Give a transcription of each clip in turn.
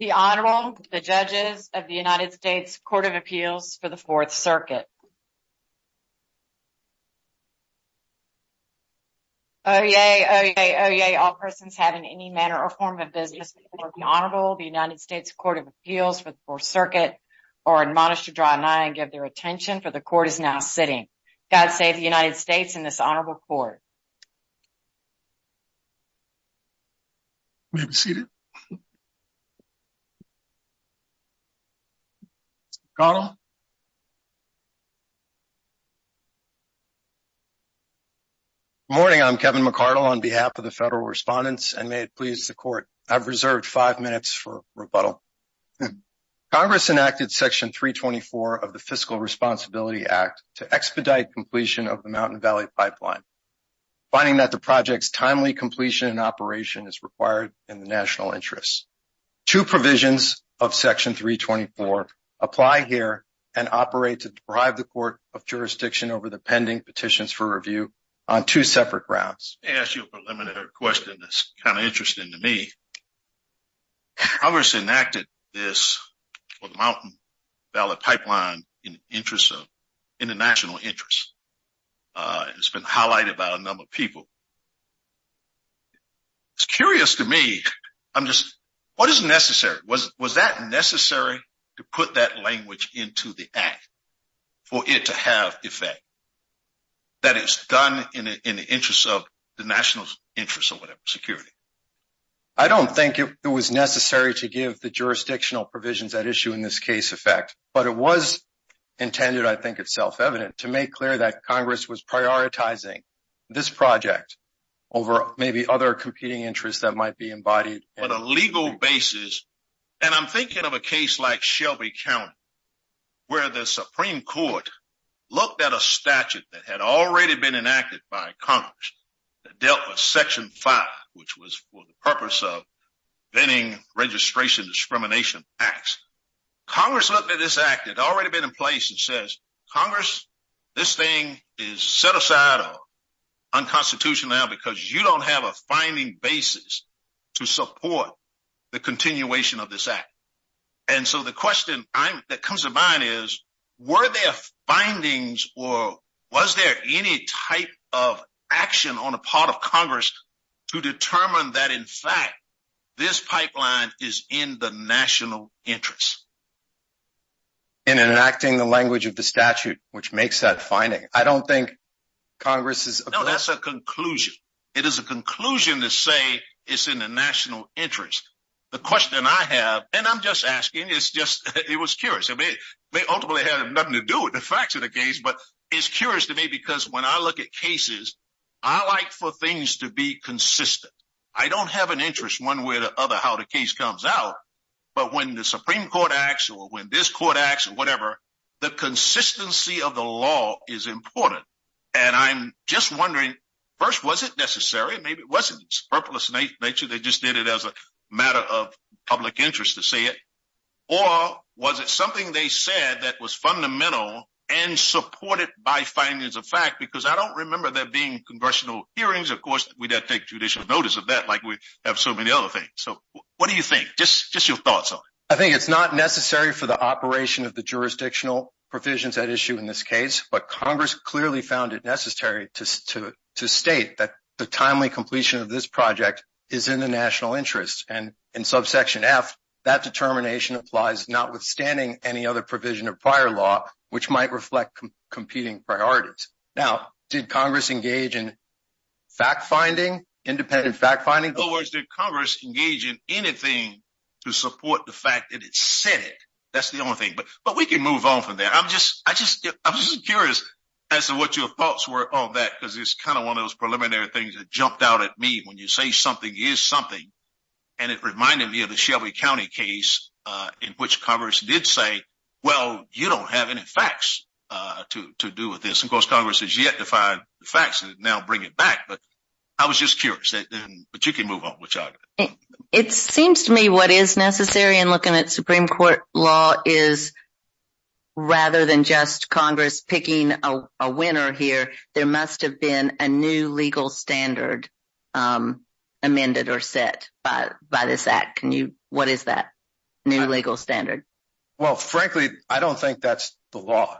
The Honorable, the Judges of the United States Court of Appeals for the Fourth Circuit. Oyez, oyez, oyez, all persons have in any manner or form of business before the Honorable of the United States Court of Appeals for the Fourth Circuit are admonished to draw an eye and give their attention for the Court is now sitting. God save the United States and this Honorable Court. McArdle, Good morning, I'm Kevin McArdle on behalf of the Federal Respondents and may it please the Court, I've reserved five minutes for rebuttal. Congress enacted Section 324 of the Fiscal Responsibility Act to expedite completion of the Mountain Valley Pipeline, finding that the project's timely completion and operation is interest. Two provisions of Section 324 apply here and operate to drive the Court of Jurisdiction over the pending petitions for review on two separate grounds. Let me ask you a preliminary question that's kind of interesting to me. Congress enacted this Mountain Valley Pipeline in the interest of international interest. It's been highlighted by a number of people. It's curious to me, I'm just, what is necessary? Was that necessary to put that language into the act for it to have effect? That it's done in the interest of the national interest of security? I don't think it was necessary to give the jurisdictional provisions that issue in this case effect, but it was intended, I think it's self-evident, to make clear that Congress was over maybe other competing interests that might be embodied. On a legal basis, and I'm thinking of a case like Shelby County where the Supreme Court looked at a statute that had already been enacted by Congress that dealt with Section 5, which was for the purpose of venting registration discrimination acts. Congress looked at this act that had already been in place and says, Congress, this thing is set aside or unconstitutional now because you don't have a finding basis to support the continuation of this act. And so the question that comes to mind is, were there findings or was there any type of action on the part of Congress to determine that in fact this pipeline is in the national interest? In enacting the language of the statute, which makes that finding. I don't think Congress is No, that's a conclusion. It is a conclusion to say it's in the national interest. The question I have, and I'm just asking, it was curious. I mean, they ultimately had nothing to do with the facts of the case, but it's curious to me because when I look at cases, I like for things to be consistent. I don't have an interest one way or the other how the case comes out, but when the Supreme Court acts or when this court acts or whatever, the consistency of the law is important. And I'm just wondering, first, was it necessary? Maybe it wasn't purposeless nature. They just did it as a matter of public interest to say it, or was it something they said that was fundamental and supported by findings of fact, because I don't remember there being congressional hearings. Of course, we'd have to take judicial notice of that like we have so many other things. So what do you think? Just your thoughts on it. I think it's not necessary for the operation of the jurisdictional provisions that issue in this case, but Congress clearly found it necessary to state that the timely completion of this project is in the national interest. And in subsection F, that determination applies notwithstanding any other provision of prior law, which might reflect competing priorities. Now, did Congress engage in fact-finding, independent fact-finding? In other words, did Congress engage in anything to support the fact that it said it? That's the only thing. But we can move on from there. I'm just curious as to what your thoughts were on that, because it's kind of one of those preliminary things that jumped out at me when you say something is something. And it reminded me of the Shelby County case in which Congress did say, well, you don't have any facts to do with this. Of course, Congress has yet to find the facts and now bring it back. But I was just curious. But you can move on. It seems to me what is necessary in looking at Supreme Court law is rather than just Congress picking a winner here, there must have been a new legal standard amended or set by this act. What is that new legal standard? Well, frankly, I don't think that's the law.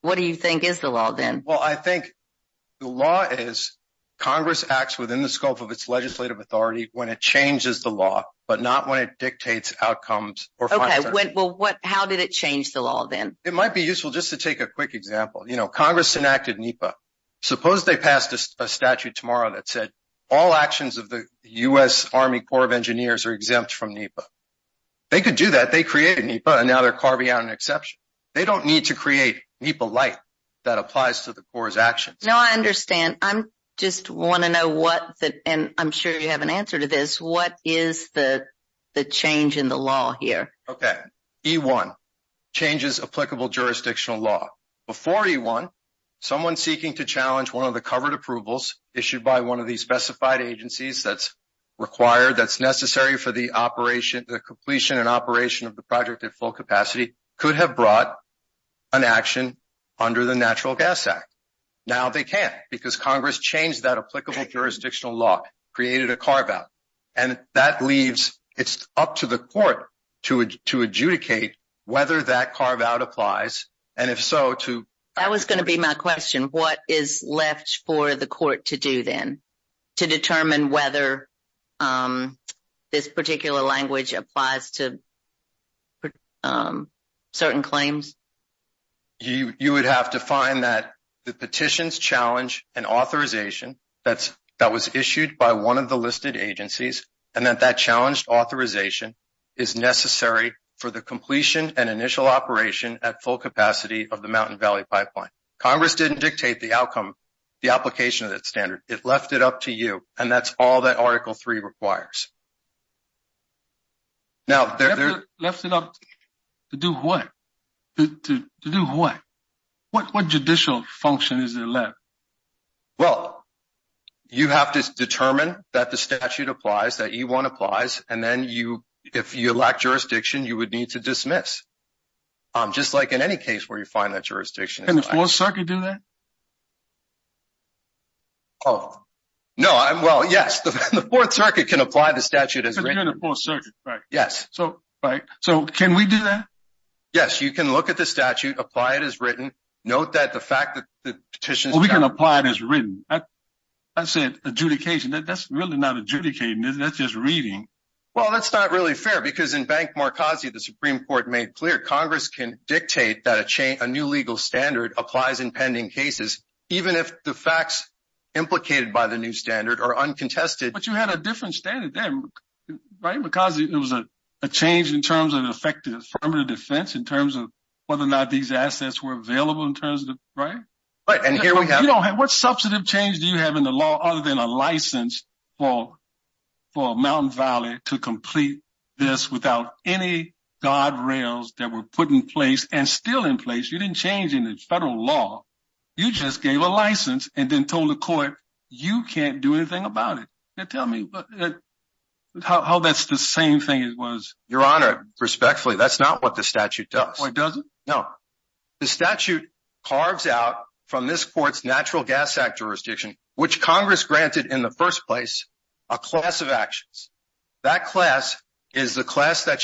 What do you think is the law, then? Well, I think the law is Congress acts within the scope of its legislative authority when it changes the law, but not when it dictates outcomes. OK. Well, how did it change the law, then? It might be useful just to take a quick example. Congress enacted NEPA. Suppose they pass a statute tomorrow that said all actions of the U.S. Army Corps of Engineers are exempt from NEPA. They could do that. They created NEPA, and now they're carving out an exception. They don't need to create NEPA-lite that applies to the Corps' actions. No, I understand. I just want to know what, and I'm sure you have an answer to this, what is the change in the law here? OK. E-1, changes applicable jurisdictional law. Before E-1, someone seeking to challenge one of the covered approvals issued by one of the specified agencies that's required, that's necessary for the operation, the completion and operation of the project at full capacity, could have brought an action under the Natural Gas Act. Now they can't because Congress changed that applicable jurisdictional law, created a carve-out, and that leaves, it's up to the court to adjudicate whether that carve-out applies, and if so, to... That was going to be my question. What is left for the court to do, then, to determine whether this particular language applies to certain claims? You would have to find that the petitions challenge and authorization that was issued by one of the listed agencies, and that that challenge authorization is necessary for the completion and initial operation at full capacity of the Mountain Valley Pipeline. Congress didn't you, and that's all that Article 3 requires. Now, there's... Left it up to do what? To do what? What judicial function is left? Well, you have to determine that the statute applies, that E-1 applies, and then you, if you lack jurisdiction, you would need to dismiss, just like in any case where you find that jurisdiction. Can the Fourth Circuit do that? Oh, no. Well, yes, the Fourth Circuit can apply the statute as written. The Fourth Circuit, right. Yes. So, can we do that? Yes, you can look at the statute, apply it as written. Note that the fact that the petitions... Well, we can apply it as written. I said adjudication. That's really not adjudicating, that's just reading. Well, that's not really fair, because in Bank Marcossia, the Supreme Court made clear, Congress can dictate that a new legal standard applies in pending cases, even if the facts implicated by the new standard are uncontested. But you had a different standard then, right? Because it was a change in terms of effective affirmative defense, in terms of whether or not these assets were available in terms of... Right. And here we have... What substantive change do you have in the law other than a license for Mountain Valley to put in place and still in place? You didn't change any federal law. You just gave a license and then told the court, you can't do anything about it. Tell me how that's the same thing it was. Your Honor, respectfully, that's not what the statute does. It doesn't? No. The statute carves out from this court's Natural Gas Act jurisdiction, which Congress granted in the first place, a class of actions. That class is the class that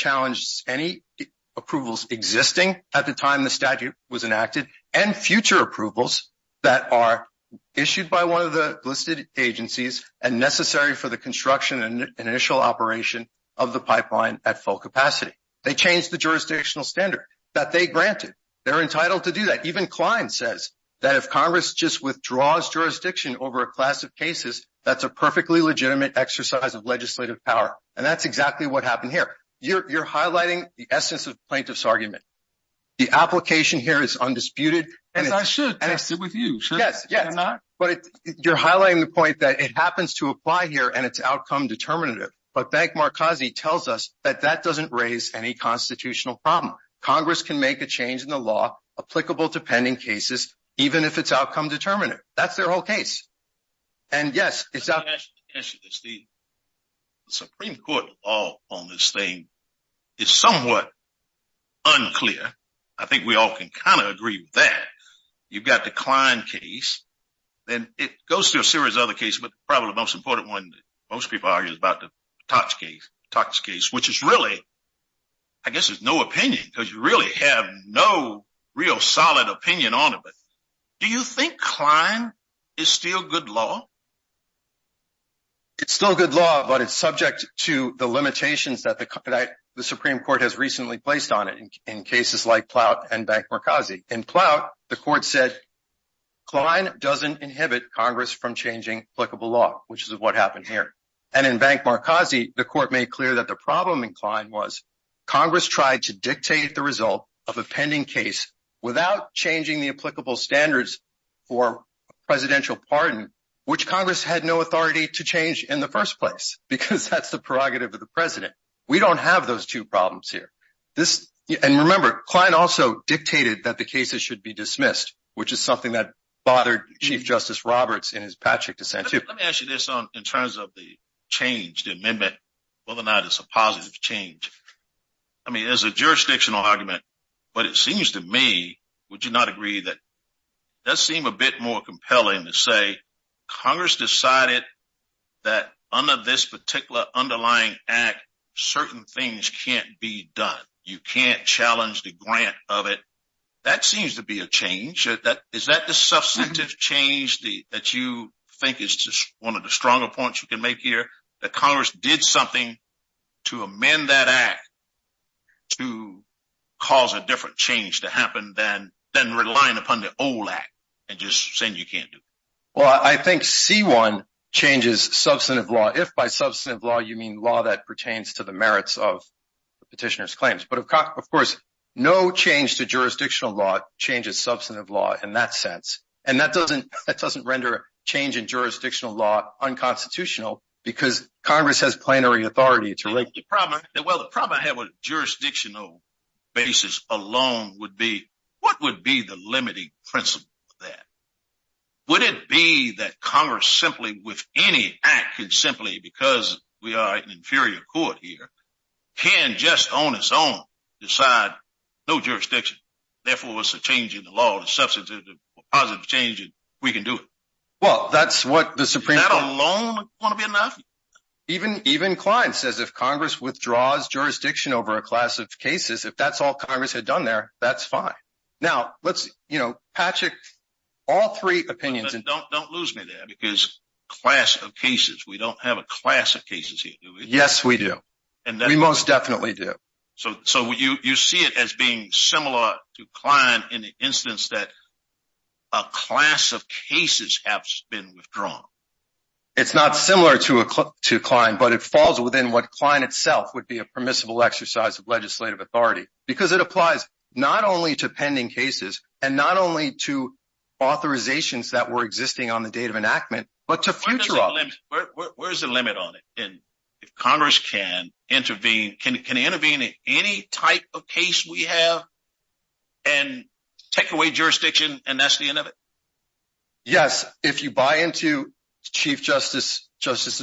existing at the time the statute was enacted and future approvals that are issued by one of the listed agencies and necessary for the construction and initial operation of the pipeline at full capacity. They changed the jurisdictional standard that they granted. They're entitled to do that. Even Klein says that if Congress just withdraws jurisdiction over a class of cases, that's a perfectly legitimate exercise of legislative power. And that's exactly what this argument is. The application here is undisputed. I should pass it with you, should I not? But you're highlighting the point that it happens to apply here and it's outcome determinative. But Bank Markazi tells us that that doesn't raise any constitutional problem. Congress can make a change in the law applicable to pending cases, even if it's outcome determinative. That's their whole case. And yes, it's up. As you can see, the Supreme Court law on this thing is somewhat unclear. I think we all can kind of agree with that. You've got the Klein case. Then it goes to a series of other cases, but probably the most important one that most people argue is about the Tuck's case, which is really, I guess there's no opinion because you really have no real solid opinion on it. Do you think Klein is still good law? It's still good law, but it's subject to the limitations that the Supreme Court has recently placed on it in cases like Ploutt and Bank Markazi. In Ploutt, the court said Klein doesn't inhibit Congress from changing applicable law, which is what happened here. And in Bank Markazi, the court made clear that the problem in Klein was Congress tried to dictate the result of a pending case without changing the applicable standards for presidential pardon, which Congress had no authority to change in the first place, because that's the prerogative of the president. We don't have those two problems here. And remember, Klein also dictated that the cases should be dismissed, which is something that bothered Chief Justice Roberts in his Patrick dissent. Let me ask you this in terms of the change, the amendment, whether or not it's a jurisdictional argument, but it seems to me, would you not agree that that seemed a bit more compelling to say Congress decided that under this particular underlying act, certain things can't be done. You can't challenge the grant of it. That seems to be a change. Is that the substantive change that you think is just one of the stronger points you can make here, that Congress did something to amend that act to cause a different change to happen than relying upon the old act and just saying you can't do it? Well, I think C-1 changes substantive law. If by substantive law, you mean law that pertains to the merits of the petitioner's claims. But of course, no change to jurisdictional law changes substantive law in that sense. And that doesn't render change in jurisdictional law unconstitutional because Congress has plenary authority. Well, the problem I have with jurisdictional basis alone would be, what would be the limiting principle of that? Would it be that Congress simply with any act could simply, because we are an inferior court here, can just on its own decide no jurisdiction, therefore it's a change in the law, a substantive positive change, and we can do it? Well, that's what the Supreme Court- Does that alone want to be enough? Even Klein says if Congress withdraws jurisdiction over a class of cases, if that's all Congress had done there, that's fine. Now, let's, you know, Patrick, all three opinions- But don't lose me there because class of cases, we don't have a class of cases here, do we? Yes, we do. We most definitely do. So you see it as being similar to Klein in the instance that a class of cases has been withdrawn. It's not similar to Klein, but it falls within what Klein itself would be a permissible exercise of legislative authority because it applies not only to pending cases and not only to authorizations that were existing on the date of enactment, but to future- Where's the limit on it? If Congress can intervene, can intervene in any type of case we have and take away jurisdiction and that's the end of it? Yes, if you buy into Chief Justice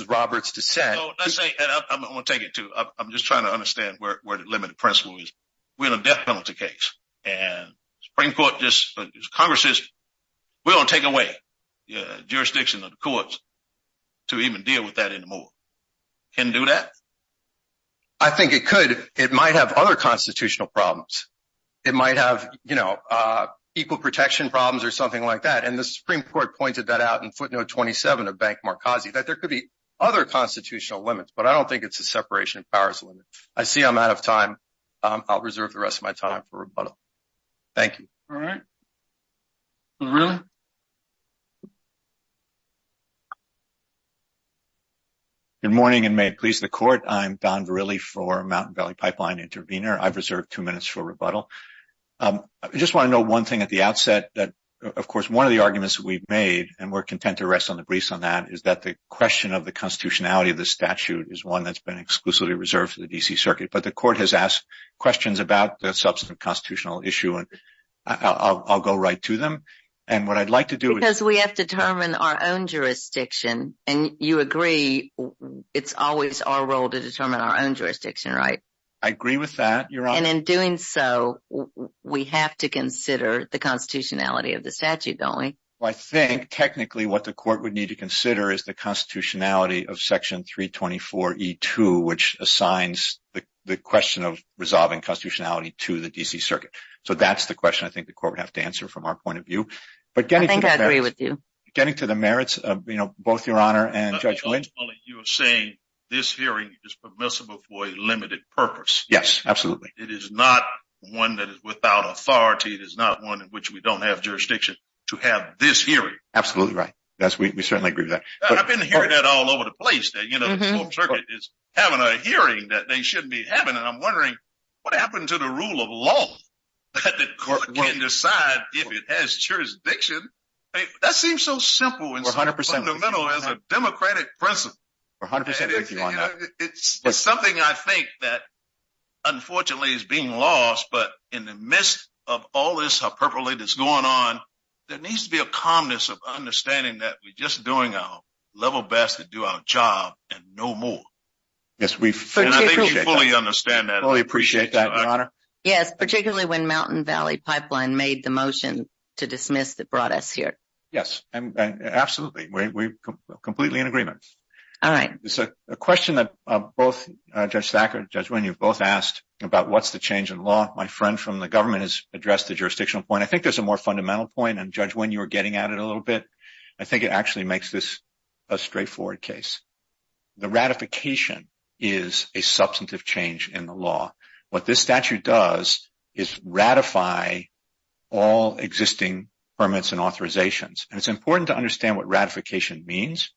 Roberts' intent- I'm going to take it, too. I'm just trying to understand where the limit of principle is. We're in a death penalty case, and the Supreme Court just- Congress says we're going to take away jurisdiction of the courts to even deal with that anymore. Can it do that? I think it could. It might have other constitutional problems. It might have, you know, equal protection problems or something like that, and the Supreme Court pointed that out in footnote 27 of Bank Markazi that there could be other constitutional limits, but I don't think it's a separation of powers limit. I see I'm out of time. I'll reserve the rest of my time for rebuttal. Thank you. All right. Verrilli? Good morning and may it please the Court. I'm Don Verrilli for Mountain Valley Pipeline Intervenor. I've reserved two minutes for rebuttal. I just want to know one thing at the outset that, of course, one of the arguments that we've made, and we're content to rest on the briefs on that, is that the question of the constitutionality of the statute is one that's been exclusively reserved for the D.C. Circuit, but the Court has asked questions about the constitutional issue, and I'll go right to them, and what I'd like to do... Because we have to determine our own jurisdiction, and you agree it's always our role to determine our own jurisdiction, right? I agree with that, Your Honor. And in doing so, we have to consider the constitutionality of the statute, don't we? Well, I think technically what the Court would need to consider is the constitutionality of the D.C. Circuit, so that's the question I think the Court would have to answer from our point of view, but getting to the merits of both Your Honor and Judge Lynch... You're saying this hearing is permissible for a limited purpose. Yes, absolutely. It is not one that is without authority. It is not one in which we don't have jurisdiction to have this hearing. Absolutely right. Yes, we certainly agree with that. I've been hearing that all over the place, that the D.C. Circuit is having a hearing that they shouldn't be having, and I'm wondering what happened to the rule of law that the Court can't decide if it has jurisdiction? That seems so simple and so fundamental as a democratic principle. We're 100% with you on that. It's something I think that unfortunately is being lost, but in the midst of all this hyperbole that's going on, there needs to be a calmness of understanding that we're just doing our level best to do our job and no more. Yes, we fully appreciate that, Your Honor. Yes, particularly when Mountain Valley Pipeline made the motion to dismiss that brought us here. Yes, absolutely. We're completely in agreement. All right. So a question that both Judge Sackler and Judge Lynch, you've both asked about what's the change in law. My friend from the government has addressed the jurisdictional point. I think there's a more fundamental point, and Judge Lynch, you were getting at it a little bit. I think it actually makes this a straightforward case. The ratification is a substantive change in the law. What this statute does is ratify all existing permits and authorizations. And it's important to understand what ratification means.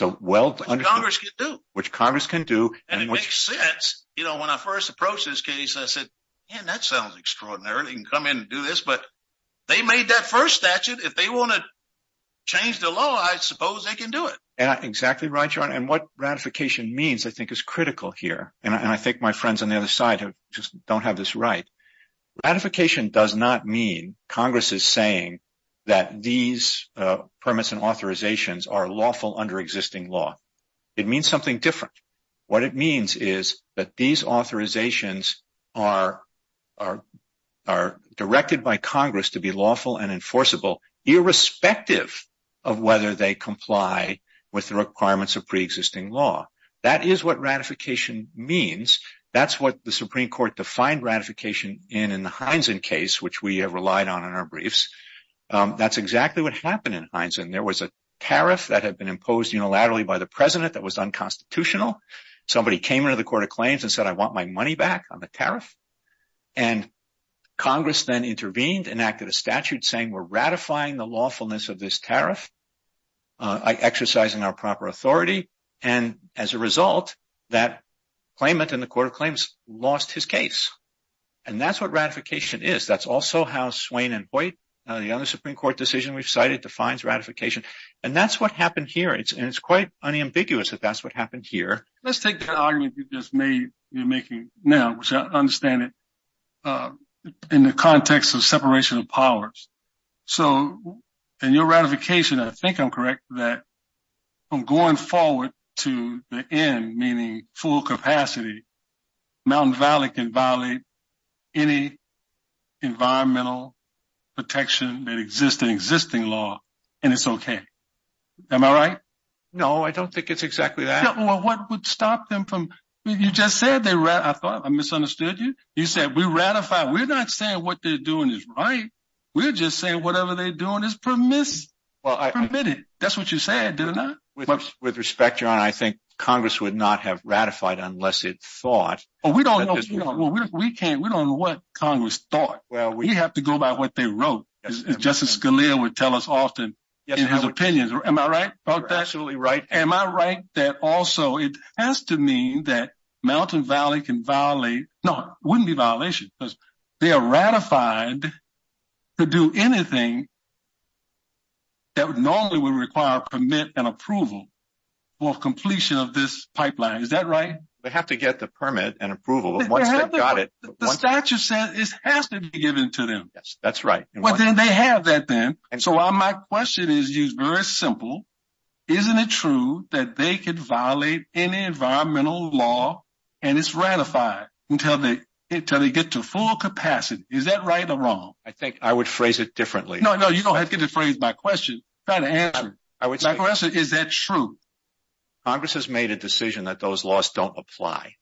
What Congress can do. Which Congress can do. And it makes sense. You know, when I first approached this case, I said, man, that sounds extraordinary. You can come in and do this, but they made that first statute. If they want to change the law, I suppose they can do it. Exactly right, Your Honor. And what ratification means, I think, is critical here. And I think my friends on the other side just don't have this right. Ratification does not mean Congress is saying that these permits and authorizations are lawful under existing law. It means something different. What it means is that these authorizations are directed by Congress to be lawful and the requirements of pre-existing law. That is what ratification means. That's what the Supreme Court defined ratification in in the Heinzen case, which we have relied on in our briefs. That's exactly what happened in Heinzen. There was a tariff that had been imposed unilaterally by the President that was unconstitutional. Somebody came into the Court of Claims and said, I want my money back on the tariff. And Congress then intervened, enacted a statute saying we're ratifying the lawfulness of this exercising our proper authority. And as a result, that claimant in the Court of Claims lost his case. And that's what ratification is. That's also how Swain and Boyd, the other Supreme Court decision we've cited, defines ratification. And that's what happened here. It's quite unambiguous that that's what happened here. Let's take the argument you just made, you're making now, which I understand it, in the context of separation of powers. So in your ratification, I think I'm correct that from going forward to the end, meaning full capacity, Mountain Valley can violate any environmental protection that exists in existing law, and it's okay. Am I right? No, I don't think it's exactly that. Well, what would stop them from, you just said, I thought I misunderstood you. You said we ratify. We're not saying what they're doing is right. We're just saying whatever they're doing is permitted. That's what you said, didn't I? With respect, Your Honor, I think Congress would not have ratified unless it thought. Well, we don't know what Congress thought. We have to go by what they wrote. Justice Scalia would tell us often in his opinions. Am I right? That's absolutely right. Am I right that also it has to mean that Mountain Valley can violate, no, it wouldn't be a violation because they are ratified to do anything that normally would require permit and approval for completion of this pipeline. Is that right? They have to get the permit and approval. The statute says it has to be given to them. Yes, that's right. Well, then they have that then. And so my question is very simple. Isn't it true that they could violate any environmental law and it's ratified until they get to full capacity? Is that right or wrong? I think I would phrase it differently. No, no, you don't have to phrase my question. Is that true? Congress has made a decision that those laws don't apply.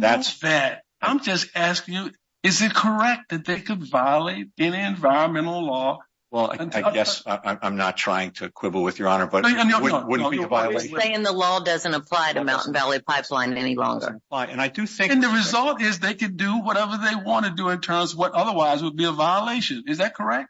That's that. I'm just asking you, is it correct that they could violate any environmental law? Well, I guess I'm not trying to quibble with Your Honor, but it wouldn't be a violation. Saying the law doesn't apply to Mountain Valley Pipeline any longer. And the result is they could do whatever they want to do in terms of what otherwise would be a violation. Is that correct?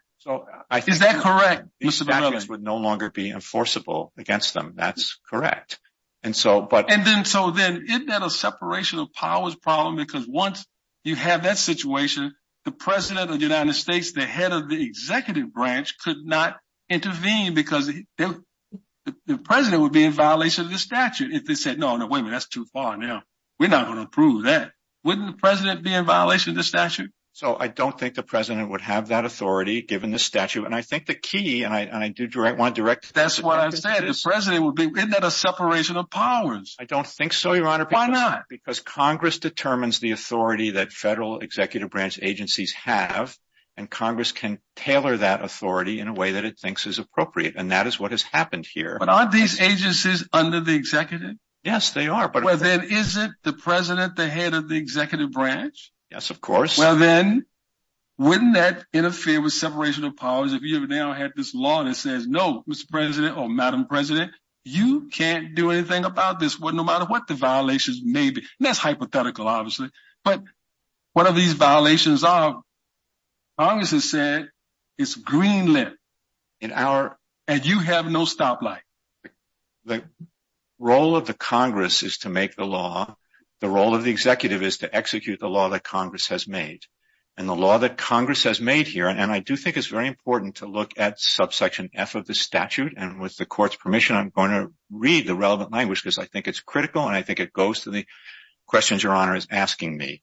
Is that correct? The statutes would no longer be enforceable against them. That's correct. And so then isn't that a separation of powers problem? Because once you have that situation, the President of the United States, the head of the executive branch, could not intervene because the President would be in violation of the statute if they said, that's too far now. We're not going to approve that. Wouldn't the President be in violation of the statute? So I don't think the President would have that authority given the statute. And I think the key, and I do want to direct- That's what I said, the President would be, isn't that a separation of powers? I don't think so, Your Honor. Why not? Because Congress determines the authority that federal executive branch agencies have. And Congress can tailor that authority in a way that it thinks is appropriate. And that is what has happened here. But aren't these agencies under the executive? Yes, they are. Well, then is it the President, the head of the executive branch? Yes, of course. Well, then wouldn't that interfere with separation of powers? If you now have this law that says, no, Mr. President or Madam President, you can't do anything about this, no matter what the violations may be. That's hypothetical, obviously. But what are these violations of? Congress has said it's green-lit, and you have no stoplight. The role of the Congress is to make the law. The role of the executive is to execute the law that Congress has made. And the law that Congress has made here- And I do think it's very important to look at subsection F of the statute. And with the Court's permission, I'm going to read the relevant language, because I think it's critical. And I think it goes to the questions Your Honor is asking me. It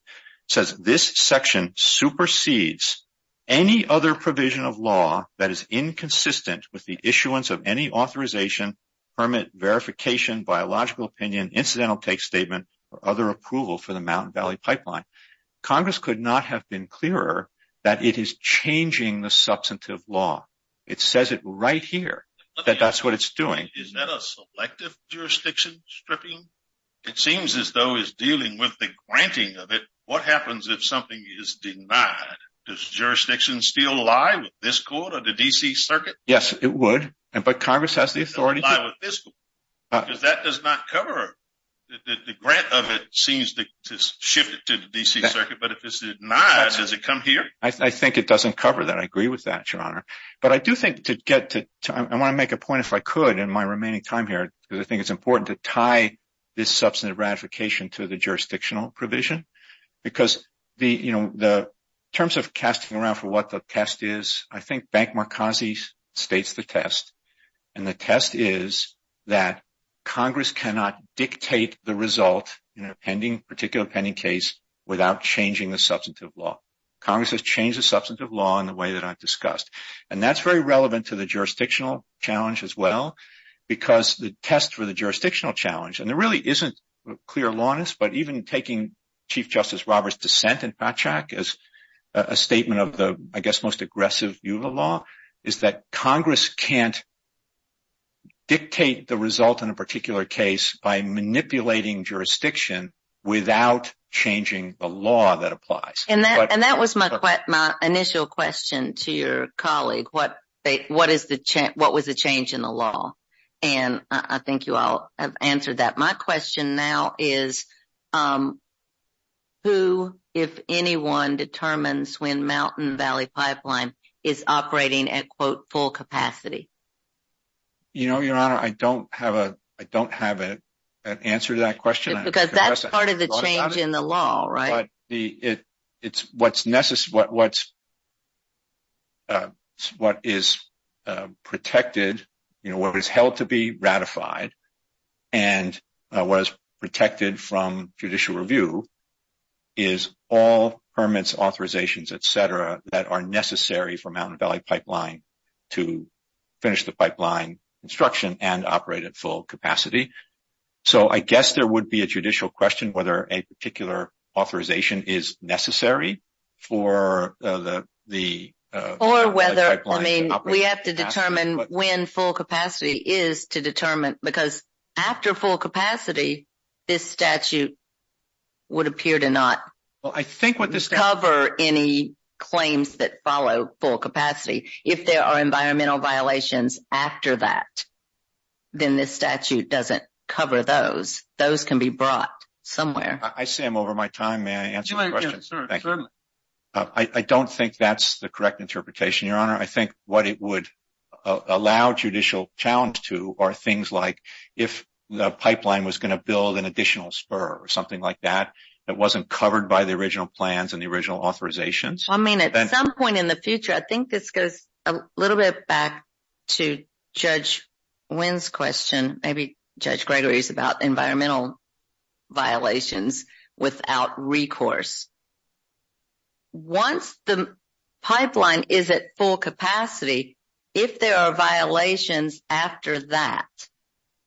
says, this section supersedes any other provision of law that is inconsistent with the issuance of any authorization, permit, verification, biological opinion, incidental take statement, or other approval for the Mountain Valley Pipeline. Congress could not have been clearer that it is changing the substantive law. It says it right here that that's what it's doing. Is that a selective jurisdiction stripping? It seems as though it's dealing with the granting of it. What happens if something is denied? Does jurisdiction still lie with this Court or the D.C. Circuit? Yes, it would. But Congress has the authority- It doesn't lie with this Court, because that does not cover it. The grant of it seems to shift it to the D.C. Circuit. But if it's denied, does it come here? I think it doesn't cover that. I agree with that, Your Honor. But I do think to get to- I want to make a point, if I could, in my remaining time here, because I think it's important to tie this substantive ratification to the jurisdictional provision. Because, you know, in terms of casting around for what the test is, I think Bank Markazi states the test. And the test is that Congress cannot dictate the result in a particular pending case without changing the substantive law. Congress has changed the substantive law in the way that I've discussed. And that's very relevant to the jurisdictional challenge as well, because the test for the jurisdictional challenge- And there really isn't clear lawness, but even taking Chief Justice Roberts' dissent as a statement of the, I guess, most aggressive view of the law, is that Congress can't dictate the result in a particular case by manipulating jurisdiction without changing the law that applies. And that was my initial question to your colleague. What was the change in the law? And I think you all have answered that. My question now is, who, if anyone, determines when Mountain Valley Pipeline is operating at, quote, full capacity? You know, Your Honor, I don't have an answer to that question. Because that's part of the change in the law, right? It's what's necessary, what is protected, you know, what is held to be ratified, and what is protected from judicial review is all permits, authorizations, et cetera, that are necessary for Mountain Valley Pipeline to finish the pipeline construction and operate at full capacity. So, I guess there would be a judicial question whether a particular authorization is necessary for the pipeline to operate at full capacity. Or whether, I mean, we have to determine when full capacity is to determine, because after full capacity, this statute would appear to not cover any claims that follow full capacity. If there are environmental violations after that, then this statute doesn't cover those. Those can be brought somewhere. I see I'm over my time. May I answer the question? I don't think that's the correct interpretation, Your Honor. I think what it would allow judicial challenge to are things like, if the pipeline was going to build an additional spur or something like that, that wasn't covered by the original plans and the original authorizations. I mean, at some point in the future, I think this goes a little bit back to Judge Wynn's question. Maybe Judge Gregory's about environmental violations without recourse. Once the pipeline is at full capacity, if there are violations after that,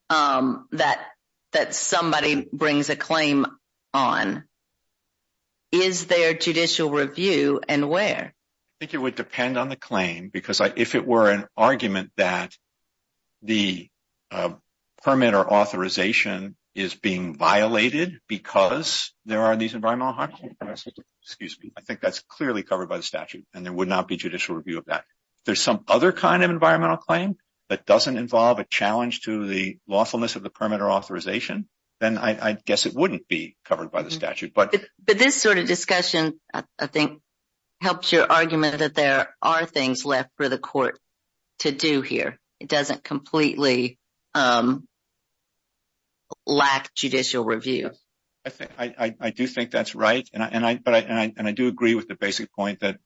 that somebody brings a claim on, is there judicial review and where? I think it would depend on the claim. Because if it were an argument that the permit or authorization is being violated because there are these environmental harmful practices, excuse me, I think that's clearly covered by the statute and there would not be judicial review of that. If there's some other kind of environmental claim that doesn't involve a challenge to the lawfulness of the permit or authorization, then I guess it wouldn't be covered by the statute. But this sort of discussion, I think, helps your argument that there are things left for the court to do here. It doesn't completely lack judicial review. I do think that's right. And I do agree with the basic point that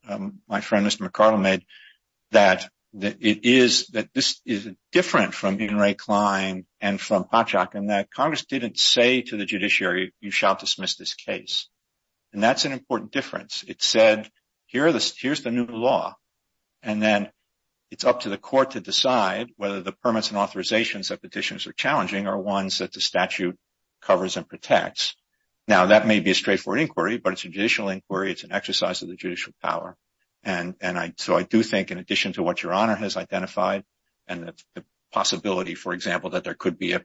my friend, Mr. McArdle, made, that it is that this is different from being Ray Klein and from Popchock, and that Congress didn't say to the judiciary, you shall dismiss this case. And that's an important difference. It said, here's the new law. And then it's up to the court to decide whether the permits and authorizations that petitions are challenging are ones that the statute covers and protects. Now, that may be a straightforward inquiry, but it's a judicial inquiry. It's an exercise of the judicial power. And so I do think, in addition to what Your Honor has identified, and the possibility, for example, that there could be an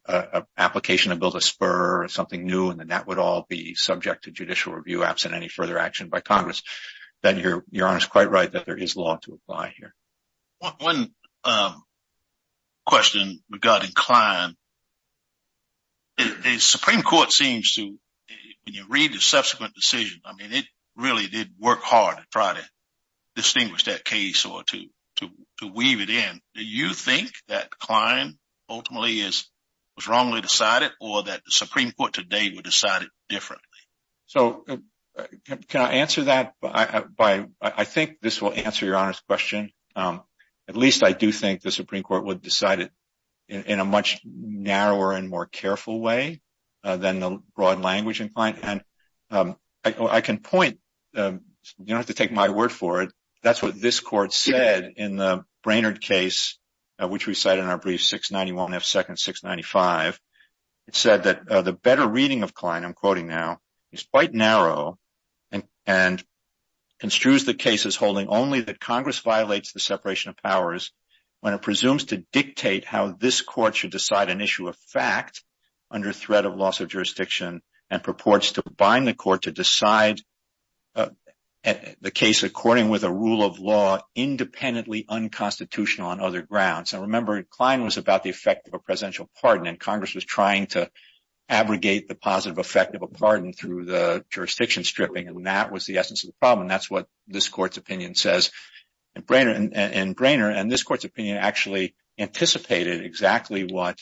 application to build a spur or something new, and then that would all be subject to judicial review, absent any further action by Congress, then Your Honor is quite right that there is law to apply here. One question regarding Klein. The Supreme Court seems to, when you read the subsequent decision, I mean, it really did work hard to try to distinguish that case or to weave it in. Do you think that Klein ultimately was wrongly decided, or that the Supreme Court today would decide it differently? So, can I answer that? I think this will answer Your Honor's question. At least I do think the Supreme Court would decide it in a much narrower and more careful way than the broad language in Klein. And I can point, you don't have to take my word for it, that's what this court said in the Brainerd case, which we cite in our brief 691 F. Second 695. It said that the better reading of Klein, I'm quoting now, is quite narrow and construes the case as holding only that Congress violates the separation of powers when it presumes to dictate how this court should decide an issue of fact under threat of loss of jurisdiction and purports to bind the court to decide a case according with a rule of law independently unconstitutional on other grounds. And remember, Klein was about the effect of a presidential pardon, and Congress was trying to abrogate the positive effect of a pardon through the jurisdiction stripping, and that was the essence of the problem. That's what this court's opinion says in Brainerd. And this court's opinion actually anticipated exactly what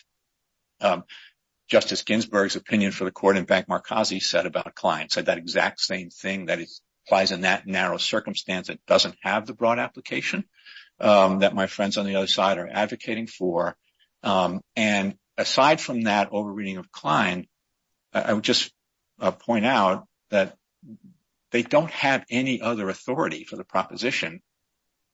Justice Ginsburg's opinion for the same thing, that it applies in that narrow circumstance. It doesn't have the broad application that my friends on the other side are advocating for. And aside from that overreading of Klein, I would just point out that they don't have any other authority for the proposition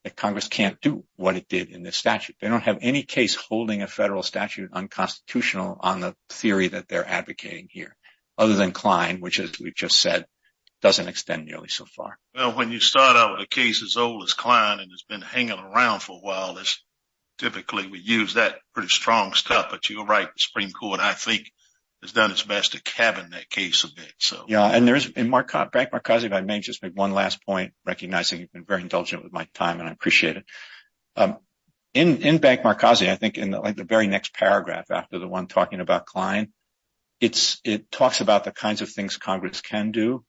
that Congress can't do what it did in this statute. They don't have any case holding a federal statute unconstitutional on the theory that they're advocating here, other than Klein, which, as we've just said, doesn't extend nearly so far. Well, when you start out with a case as old as Klein and has been hanging around for a while, typically we use that pretty strong stuff, but you're right. The Supreme Court, I think, has done its best to cabin that case a bit, so. Yeah, and Bank Marcosi, if I may, just make one last point, recognizing you've been very indulgent with my time, and I appreciate it. In Bank Marcosi, I think in the very next paragraph after the one talking about Klein, it talks about the kinds of things Congress can do,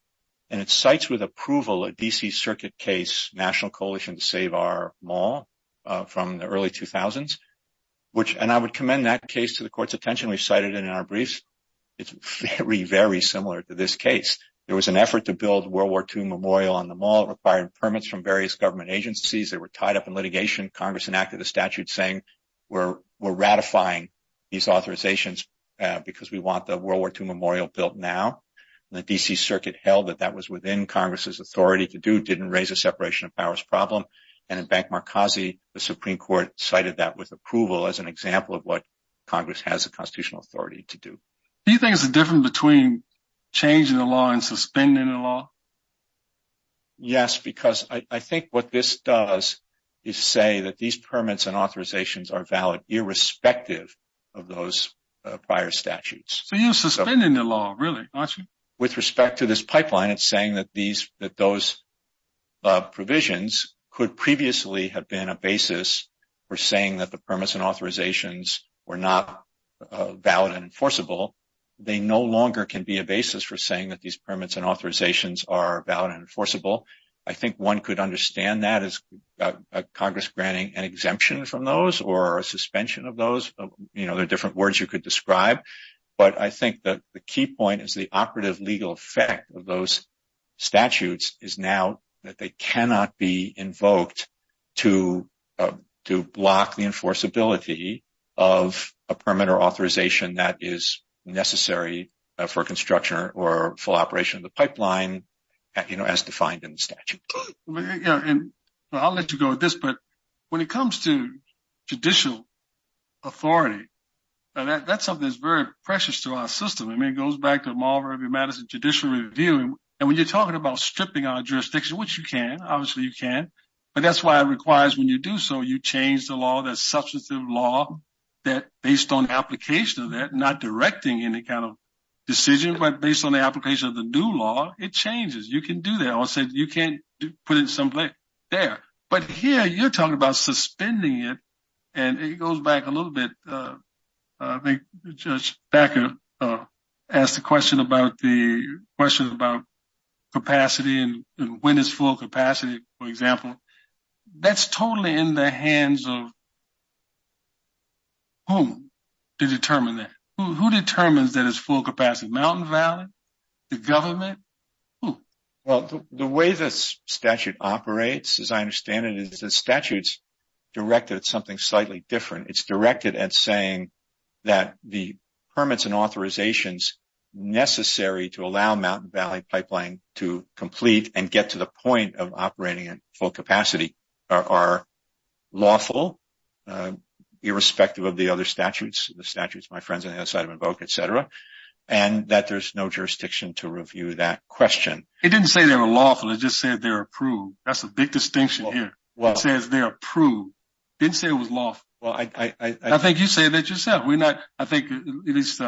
and it cites with approval a D.C. Circuit case, National Coalition to Save Our Mall, from the early 2000s. And I would commend that case to the Court's attention. We cited it in our briefs. It's very, very similar to this case. There was an effort to build World War II Memorial on the Mall. It required permits from various government agencies. They were tied up in litigation. Congress enacted the statute saying, we're ratifying these authorizations because we want the World War II Memorial built now. The D.C. Circuit held that that was within Congress's authority to do, didn't raise a separation of powers problem. And in Bank Marcosi, the Supreme Court cited that with approval as an example of what Congress has the constitutional authority to do. Do you think there's a difference between changing the law and suspending the law? Yes, because I think what this does is say that these permits and authorizations are valid irrespective of those prior statutes. So you're suspending the law, really, aren't you? With respect to this pipeline, it's saying that those provisions could previously have been a basis for saying that the permits and authorizations were not valid and enforceable. They no longer can be a basis for saying that these permits and authorizations are valid and enforceable. I think one could understand that as Congress granting an exemption from those or a suspension of those. You know, there are different words you could describe, but I think that the key point is the operative legal effect of those statutes is now that they cannot be invoked to block the enforceability of a permit or authorization that is necessary for construction or full construction. So I'll let you go with this, but when it comes to judicial authority, that's something that's very precious to our system. I mean, it goes back to the Mall of Irving Madison Judicial Review. And when you're talking about stripping our jurisdiction, which you can, obviously you can, but that's why it requires when you do so, you change the law, that substantive law, that based on the application of that, not directing any kind of decision, but based on the application of the new law, it changes. You can do that. You can't put it someplace there. But here, you're talking about suspending it, and it goes back a little bit. I think Judge Stacker asked a question about the question about capacity and when it's full capacity, for example. That's totally in the hands of whom to determine that. Who determines that it's full capacity? Mountain Valley? The government? Who? Well, the way the statute operates, as I understand it, is the statute's directed at something slightly different. It's directed at saying that the permits and authorizations necessary to allow Mountain Valley Pipeline to complete and get to the point of operating in full capacity are lawful, irrespective of the other statutes, the statutes my friends on the other side of the boat, et cetera, and that there's no jurisdiction to review that question. It didn't say they were lawful. It just said they're approved. That's the big distinction here. It says they're approved. It didn't say it was lawful. Well, I think you said that yourself. I think at least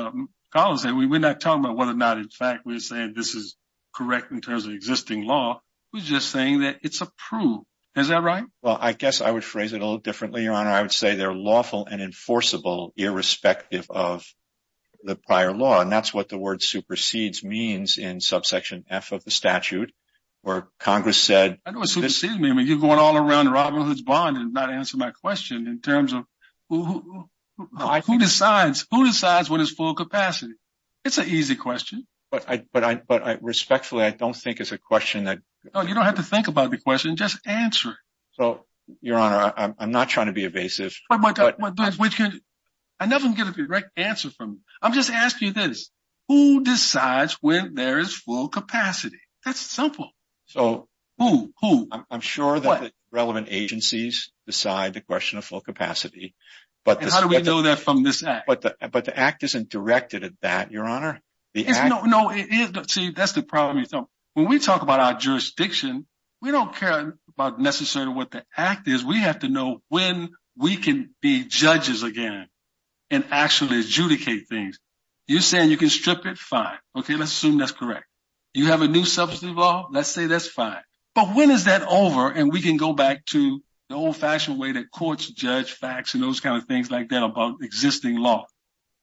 Kyle said, we're not talking about whether or not, in fact, we're saying this is correct in terms of existing law. We're just saying that it's approved. Is that right? Well, I guess I would phrase it a little differently, Your Honor. I would say they're lawful and enforceable, irrespective of the prior law. That's what the word supersedes means in subsection F of the statute, where Congress said- I know it supersedes me, but you're going all around Robin Hood's bond and not answering my question in terms of who decides what is full capacity. It's an easy question. But respectfully, I don't think it's a question that- You don't have to think about the question. Just answer it. So, Your Honor, I'm not trying to be evasive. I'm never going to get a direct answer from you. I'm just asking you this. Who decides when there is full capacity? That's simple. So- Who? Who? I'm sure that relevant agencies decide the question of full capacity, but- How do we know that from this act? But the act isn't directed at that, Your Honor. No, that's the problem. When we talk about our jurisdiction, we don't care about necessarily what the act is. We have to know when we can be judges again and actually adjudicate things. You're saying you can strip it. Fine. Okay, let's assume that's correct. Do you have a new substitute law? Let's say that's fine. But when is that over and we can go back to the old-fashioned way that courts judge facts and those kind of things like that about existing law?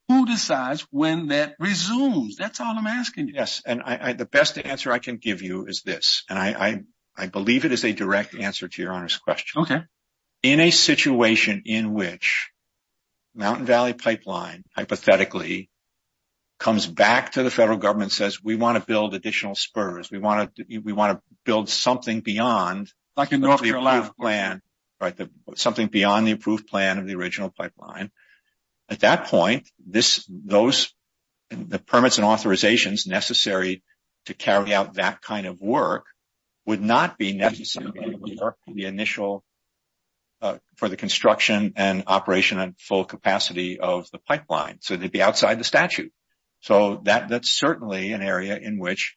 Who decides when that resumes? That's all I'm asking you. Yes, and the best answer I can give you is this, and I believe it is a direct answer to Your Honor's question. In a situation in which Mountain Valley Pipeline, hypothetically, comes back to the federal government and says, we want to build additional spurs. We want to build something beyond the approved plan of the original pipeline. At that point, the permits and authorizations necessary to carry out that kind of work would not be necessary for the construction and operation and full capacity of the pipeline. So they'd be outside the statute. So that's certainly an area in which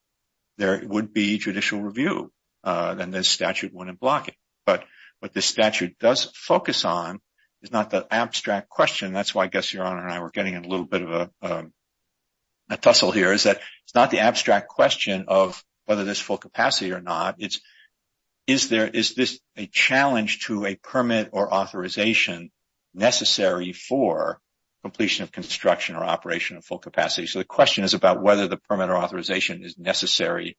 there would be judicial review. Then the statute wouldn't block it. But what the statute does focus on is not the abstract question. That's why I guess Your Honor and I were getting a little bit of a tussle here is that it's not the abstract question of whether there's full capacity or not. Is this a challenge to a permit or authorization necessary for completion of construction or operation of full capacity? So the question is about whether the permit or authorization is necessary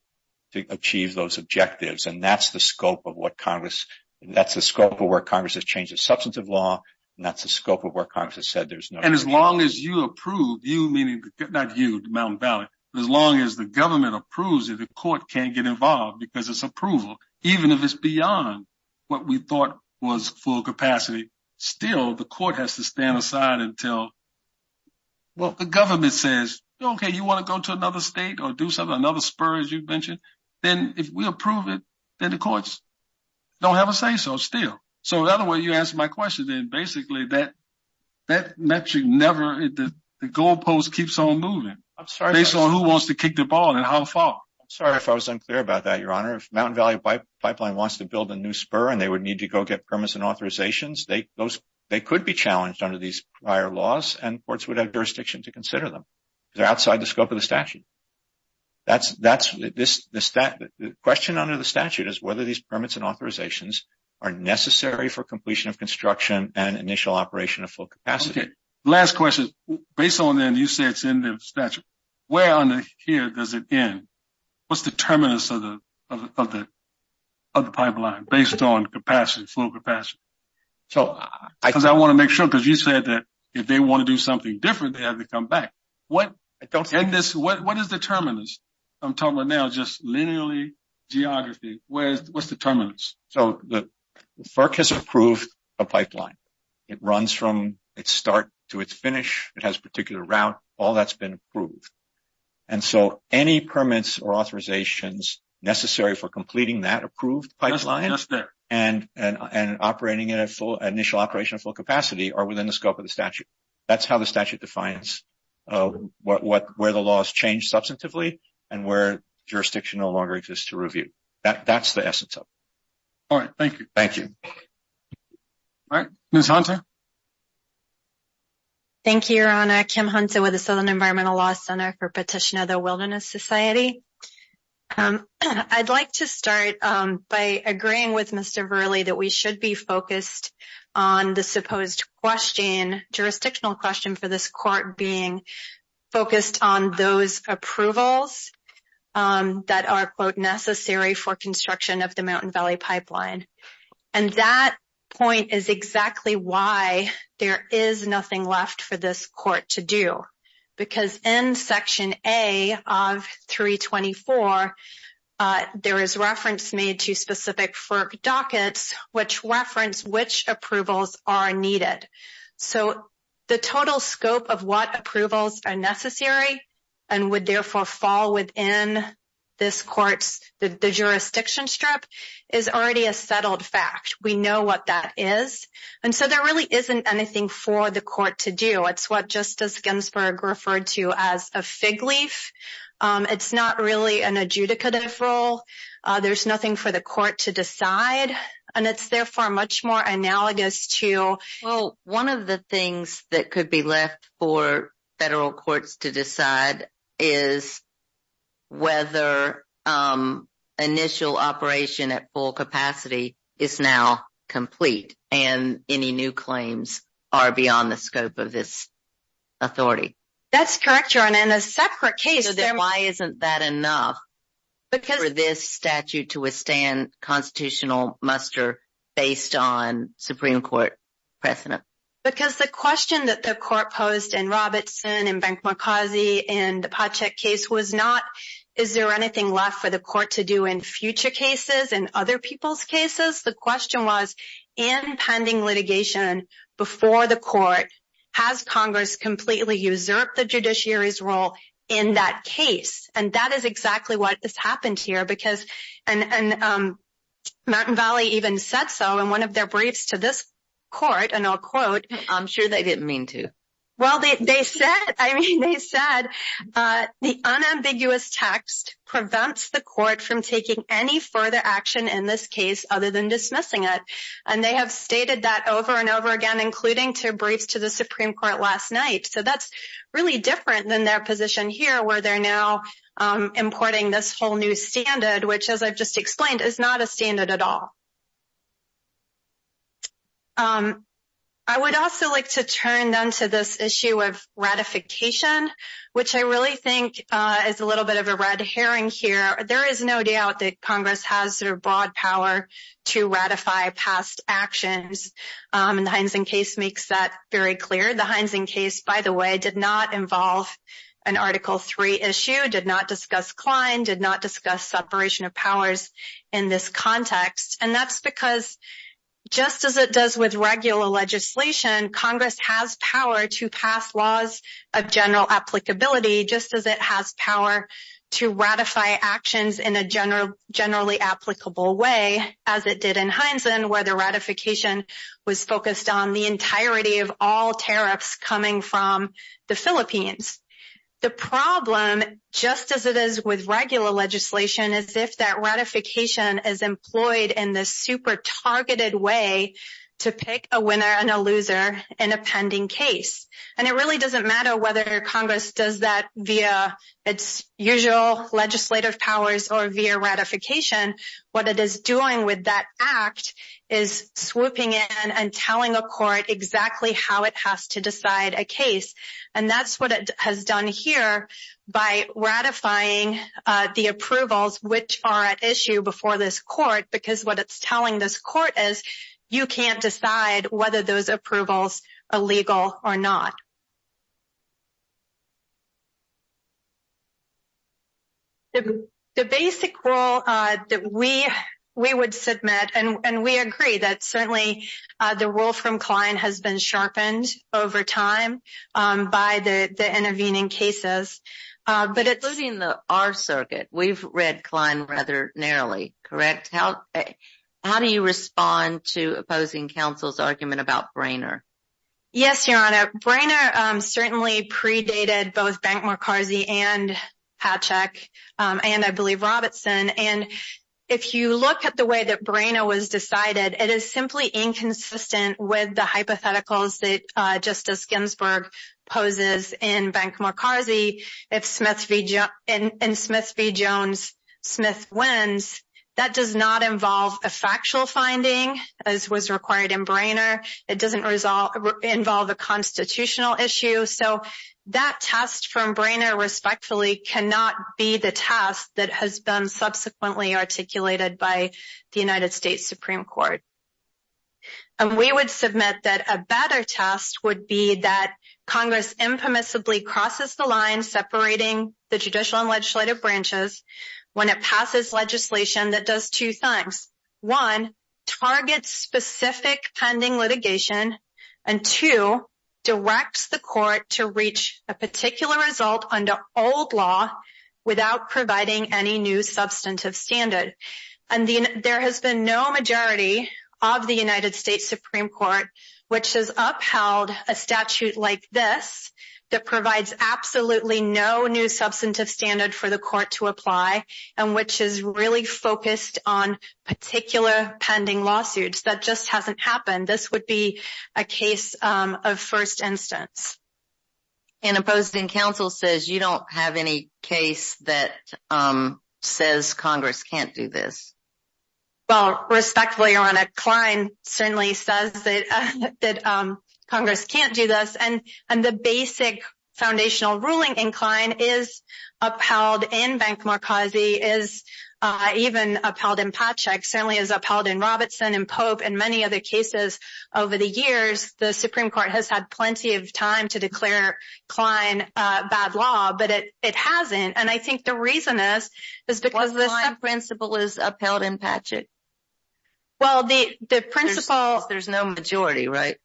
to achieve those objectives. And that's the scope of where Congress has changed its substantive law, and that's the scope of where Congress has said there's no— And as long as you approve, you meaning—not you, Mountain Valley—as long as the government approves it, the court can't get involved because it's approval, even if it's beyond what we thought was full capacity. Still, the court has to stand aside and tell—well, if the government says, okay, you want to go to another state or do something, another spur, as you mentioned, then if we approve it, then the courts don't have a say, so still. So that way you answer my question, then basically that metric never—the goalpost keeps on moving based on who wants to kick the ball and how far. I'm sorry if I was unclear about that, Your Honor. If Mountain Valley Pipeline wants to build a new spur and they would need to go get permits and authorizations, they could be challenged under these prior laws, and courts would have jurisdiction to consider them. They're outside the scope of the statute. That's—the question under the statute is whether these permits and authorizations are necessary for completion of construction and initial operation of full capacity. Last question. Based on that, you say it's in the statute. Where on here does it end? What's the terminus of the pipeline based on capacity, full capacity? So I want to make sure, because you said that if they want to do something different, they have to come back. What is the terminus? I'm talking about now just linearly geography. What's the terminus? So the FERC has approved a pipeline. It runs from its start to its finish. It has a particular route. All that's been approved. And so any permits or authorizations necessary for completing that approved pipeline and operating in a full—initial operation of full capacity are within the scope of the statute. That's how the statute defines where the law has changed substantively and where jurisdiction no longer exists to review. That's the essence of it. All right. Thank you. Thank you. All right. Ms. Hunter. Thank you, Your Honor. Kim Hunter with the Southern Environmental Law Center for Petitioner of the Wilderness Society. I'd like to start by agreeing with Mr. Verley that we should be focused on the supposed question, jurisdictional question for this court being focused on those approvals that are, quote, necessary for construction of the Mountain Valley Pipeline. And that point is exactly why there is nothing left for this court to do. Because in Section A of 324, there is reference made to specific FERC dockets which reference which approvals are needed. So the total scope of what approvals are necessary and would therefore fall within this court's—the we know what that is. And so there really isn't anything for the court to do. It's what Justice Ginsburg referred to as a fig leaf. It's not really an adjudicative role. There's nothing for the court to decide. And it's therefore much more analogous to— Well, one of the things that could be left for federal courts to decide is whether initial operation at full capacity is now complete and any new claims are beyond the scope of this authority. That's correct, John. And a separate case— Why isn't that enough for this statute to withstand constitutional muster based on Supreme Court precedents? Because the question that the court posed in Robertson and Benk-Molkazi in the Podcheck case was not, is there anything left for the court to do in future cases, in other people's cases? The question was, in pending litigation before the court, has Congress completely usurped the judiciary's role in that case? And that is exactly what has happened here because—and Mountain Valley even said so in one of their briefs to this court, and I'll quote— I'm sure they didn't mean to. Well, they said—I mean, they said the unambiguous text prevents the court from taking any further action in this case other than dismissing it. And they have stated that over and over again, including to a brief to the Supreme Court last night. So that's really different than their position here where they're now importing this whole new standard, which, as I've just explained, is not a standard at all. I would also like to turn then to this issue of ratification, which I really think is a little bit of a red herring here. There is no doubt that Congress has their broad power to ratify past actions, and the Heinzen case makes that very clear. The Heinzen case, by the way, did not involve an Article III issue, did not discuss Klein, did not discuss separation of powers in this context. And that's because, just as it does with regular legislation, Congress has power to pass laws of general applicability, just as it has power to ratify actions in a generally applicable way, as it did in Heinzen, where the ratification was focused on the entirety The problem, just as it is with regular legislation, is if that ratification is employed in this super targeted way to pick a winner and a loser in a pending case. And it really doesn't matter whether Congress does that via its usual legislative powers or via ratification. What it is doing with that act is swooping in and telling a court exactly how it has to decide a case. And that's what it has done here by ratifying the approvals which are at issue before this court, because what it's telling this court is you can't decide whether those approvals are legal or not. The basic rule that we would submit, and we agree that certainly the rule from Klein has been sharpened over time by the intervening cases, but it's Those are in the R circuit. We've read Klein rather narrowly, correct? How do you respond to opposing counsel's argument about Brainer? Yes, Your Honor. Brainer certainly predated both Bank-McCarthy and Hatchek, and I believe Robertson. If you look at the way that Brainer was decided, it is simply inconsistent with the hypotheticals that Justice Ginsburg poses in Bank-McCarthy. If Smith v. Jones, Smith wins, that does not involve a factual finding as was required in Brainer. It doesn't involve a constitutional issue. That test from Brainer, respectfully, cannot be the test that has been subsequently articulated by the United States Supreme Court. We would submit that a better test would be that Congress impermissibly crosses the line separating the judicial and legislative branches when it passes legislation that does two things. One, targets specific pending litigation, and two, directs the court to reach a particular result under old law without providing any new substantive standard. There has been no majority of the United States Supreme Court which has upheld a statute like this that provides absolutely no new substantive standard for the court to apply and which is really focused on particular pending lawsuits. That just hasn't happened. This would be a case of first instance. And opposing counsel says you don't have any case that says Congress can't do this. Well, respectfully, Your Honor, Klein certainly says that Congress can't do this, and the basic foundational ruling in Klein is upheld in Bank Marcosi, is even upheld in Pacek, certainly is upheld in Robertson and Pope and many other cases over the years. The Supreme Court has had plenty of time to declare Klein bad law, but it hasn't. And I think the reason is, is because the principle is upheld in Pacek. Well, the principle... There's no majority, right?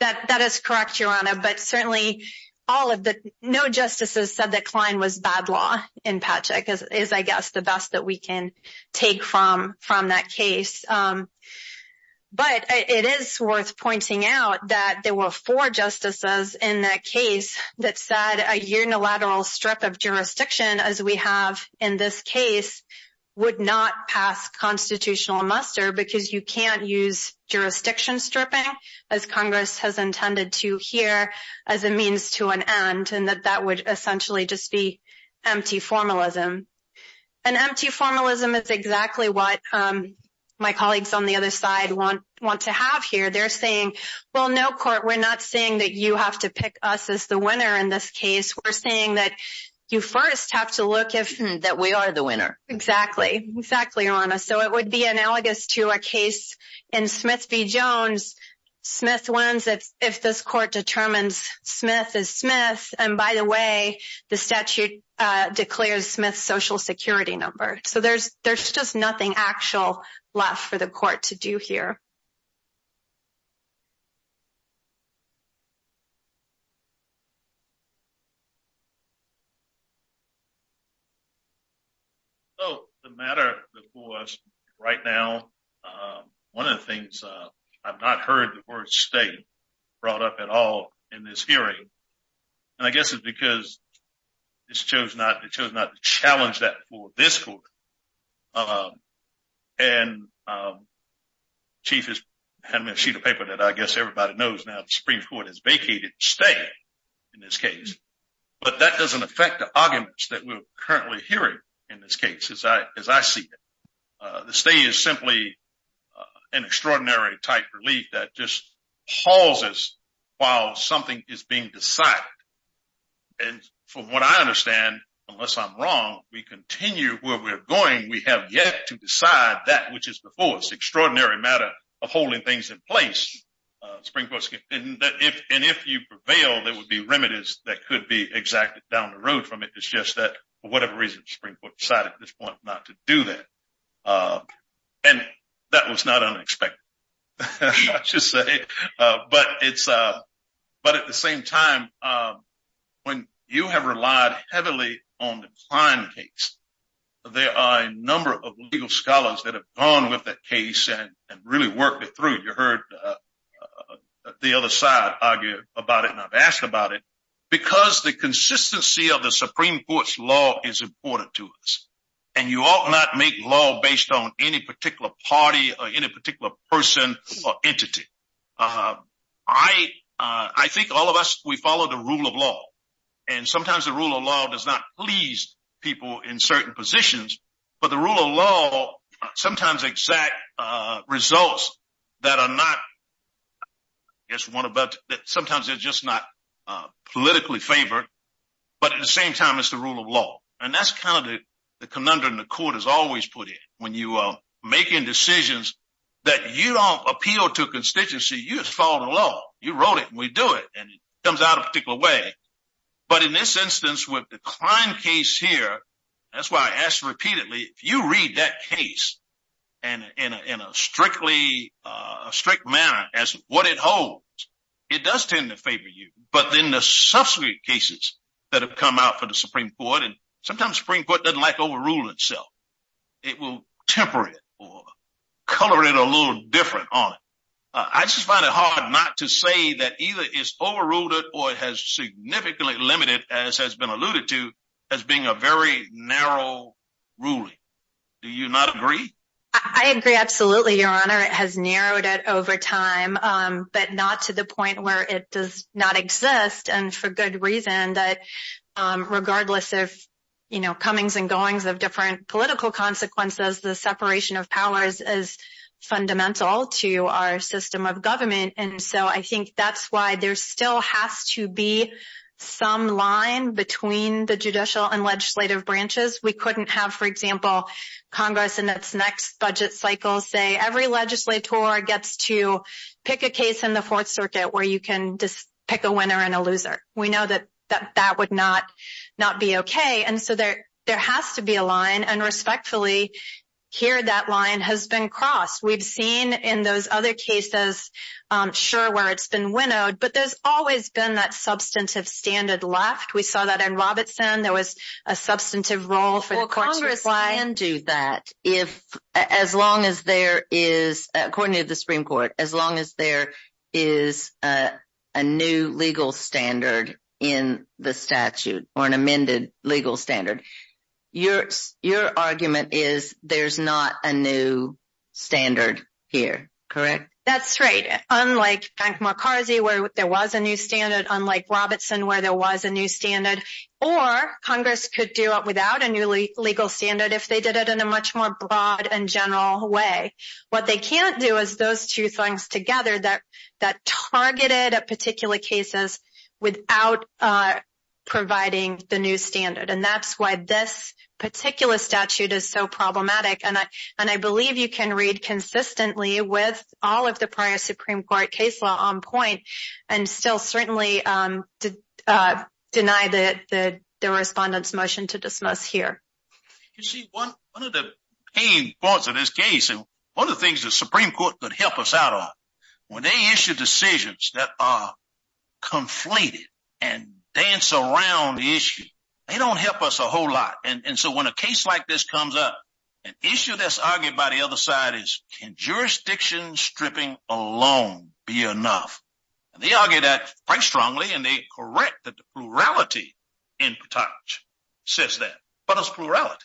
That is correct, Your Honor, but certainly all of the... No justices said that Klein was bad law in Pacek is, I guess, the best that we can take from that case. But it is worth pointing out that there were four justices in that case that said a unilateral strip of jurisdiction, as we have in this case, would not pass constitutional muster because you can't use jurisdiction stripping as Congress has intended to here as a means to an end, and that that would essentially just be empty formalism. An empty formalism is exactly what my colleagues on the other side want to have here. They're saying, well, no court, we're not saying that you have to pick us as the winner in this case. We're saying that you first have to look if... That we are the winner. Exactly, exactly, Your Honor. So it would be analogous to a case in Smith v. Jones. Smith wins if this court determines Smith is Smith, and by the way, the statute declares Smith's social security number. So there's just nothing actual left for the court to do here. So the matter before us right now, one of the things I've not heard the word state brought up at all in this hearing, and I guess it's because this chose not to challenge that for this court. I see the paper that I guess everybody knows now the Supreme Court has vacated the stay in this case, but that doesn't affect the arguments that we're currently hearing in this case as I see it. The stay is simply an extraordinary type relief that just hauls us while something is being decided. And from what I understand, unless I'm wrong, we continue where we're going. We have yet to decide that which is the fullest extraordinary matter of holding things in place. And if you prevail, there will be remedies that could be exacted down the road from it. It's just that for whatever reason, the Supreme Court decided at this point not to do that. And that was not unexpected. But at the same time, when you have relied heavily on the design case, there are a number of legal scholars that have gone with that case and really worked it through. You heard the other side argue about it, and I've asked about it. Because the consistency of the Supreme Court's law is important to us, and you ought not make law based on any particular party or any particular person or entity. I think all of us, we follow the rule of law, and sometimes the rule of law does not please people in certain positions. But the rule of law sometimes exact results that are not, I guess, sometimes they're just not politically favored. But at the same time, it's the rule of law. And that's kind of the conundrum the court has always put in. When you are making decisions that you don't appeal to a constituency, you just follow the law. You wrote it, and we do it. And it comes out a particular way. But in this instance, with the crime case here, that's why I asked repeatedly, if you read that case in a strict manner as what it holds, it does tend to favor you. But then the subsequent cases that have come out for the Supreme Court, and sometimes the Supreme Court doesn't like to overrule itself. It will temper it or color it a little different on it. I just find it hard not to say that either it's overruled it or it has significantly limited, as has been alluded to, as being a very narrow ruling. Do you not agree? I agree, absolutely, Your Honor. It has narrowed it over time, but not to the point where it does not exist. And for good reason, that regardless of, you know, comings and goings of different political consequences, the separation of powers is fundamental to our system of government. And so I think that's why there still has to be some line between the judicial and legislative branches. We couldn't have, for example, Congress in its next budget cycle say every legislator gets to pick a case in the Fourth Circuit where you can just pick a winner and a loser. We know that that would not be okay. And so there has to be a line. And respectfully, here that line has been crossed. We've seen in those other cases, sure, where it's been winnowed. But there's always been that substantive standard left. We saw that in Robertson. There was a substantive role for the Congress line. Well, Congress can do that, as long as there is, according to the Supreme Court, as long Your argument is there's not a new standard here, correct? That's right. Unlike Frank McCarthy, where there was a new standard, unlike Robertson, where there was a new standard. Or Congress could do it without a new legal standard if they did it in a much more broad and general way. What they can't do is those two things together that targeted particular cases without providing the new standard. And that's why this particular statute is so problematic. And I believe you can read consistently with all of the prior Supreme Court case law on point and still certainly deny the respondent's motion to dismiss here. You see, one of the key parts of this case, and one of the things the Supreme Court could help us out on, when they issue decisions that are conflated and dance around the issue, they don't help us a whole lot. And so when a case like this comes up, an issue that's argued by the other side is, can jurisdiction stripping alone be enough? And they argue that quite strongly. And they correct the plurality in Pataj says that. But it's plurality.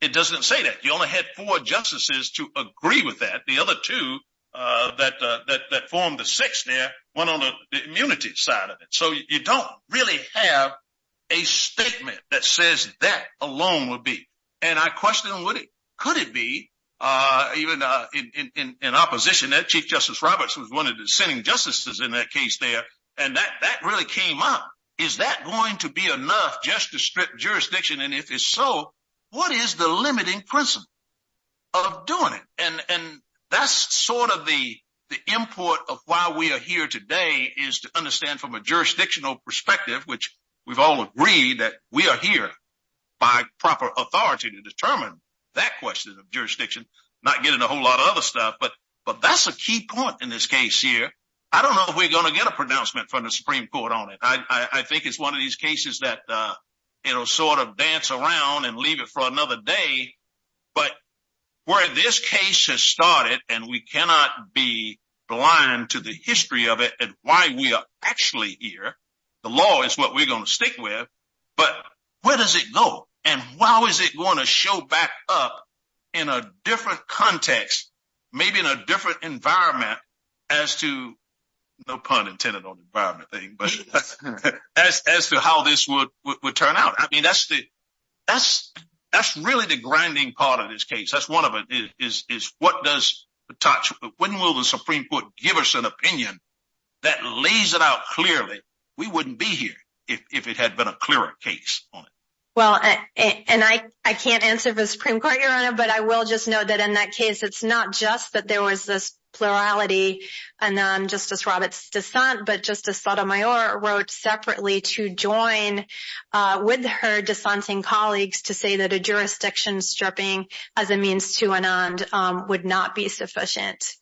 It doesn't say that. You only had four justices to agree with that. The other two that formed the six there went on the immunity side of it. So you don't really have a statement that says that alone would be. And I question, could it be? Even in opposition, Chief Justice Roberts was one of the sending justices in that case there. And that really came up. Is that going to be enough just to strip jurisdiction? And if so, what is the limiting principle of doing it? And that's sort of the import of why we are here today is to understand from a jurisdictional perspective, which we've all agreed that we are here by proper authority to determine that question of jurisdiction, not getting a whole lot of other stuff. But that's a key point in this case here. I don't know if we're going to get a pronouncement from the Supreme Court on it. I think it's one of these cases that sort of dance around and leave it for another day. But where this case has started, and we cannot be blind to the history of it and why we are actually here, the law is what we're going to stick with. But where does it go? And how is it going to show back up in a different context, maybe in a different environment as to, no pun intended on the environment thing, but as to how this would turn out? I mean, that's really the grinding part of this case. That's one of it, is what does the touch? When will the Supreme Court give us an opinion that lays it out clearly? We wouldn't be here if it had been a clearer case on it. Well, and I can't answer the Supreme Court, Your Honor, but I will just know that in that case, it's not just that there was this plurality and Justice Roberts' dissent, but Justice Sotomayor wrote separately to join with her dissenting colleagues to say that a jurisdiction stripping as a means to and on would not be sufficient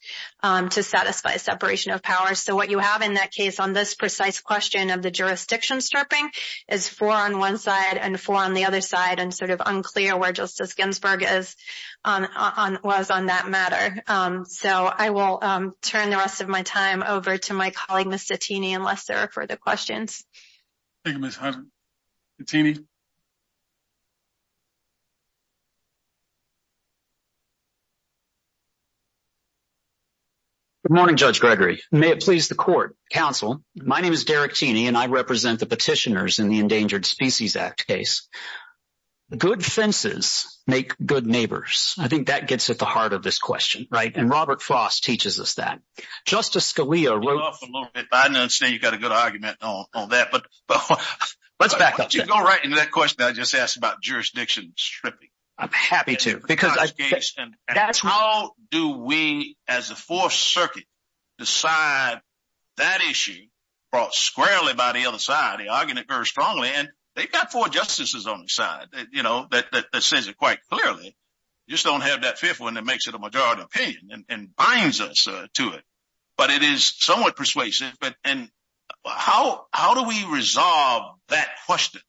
to satisfy separation of powers. So what you have in that case on this precise question of the jurisdiction stripping is four on one side and four on the other side and sort of unclear where Justice Ginsburg was on that matter. So I will turn the rest of my time over to my colleague, Mr. Tini, unless there are further questions. Good morning, Judge Gregory. May it please the court, counsel. My name is Derek Tini and I represent the petitioners in the Endangered Species Act case. Good senses make good neighbors. I think that gets at the heart of this question. Right. And Robert Foss teaches us that. Justice Scalia wrote. Off a little bit, but I understand you've got a good argument on that. But let's back up. You're going right into that question I just asked about jurisdiction stripping. I'm happy to. Because how do we, as the Fourth Circuit, decide that issue brought squarely by the other side, they argued it very strongly, and they've got four justices on the side, you know, that sends it quite clearly. Just don't have that fifth one that makes it a majority opinion and binds us to it. But it is somewhat persuasive. And how do we resolve that question?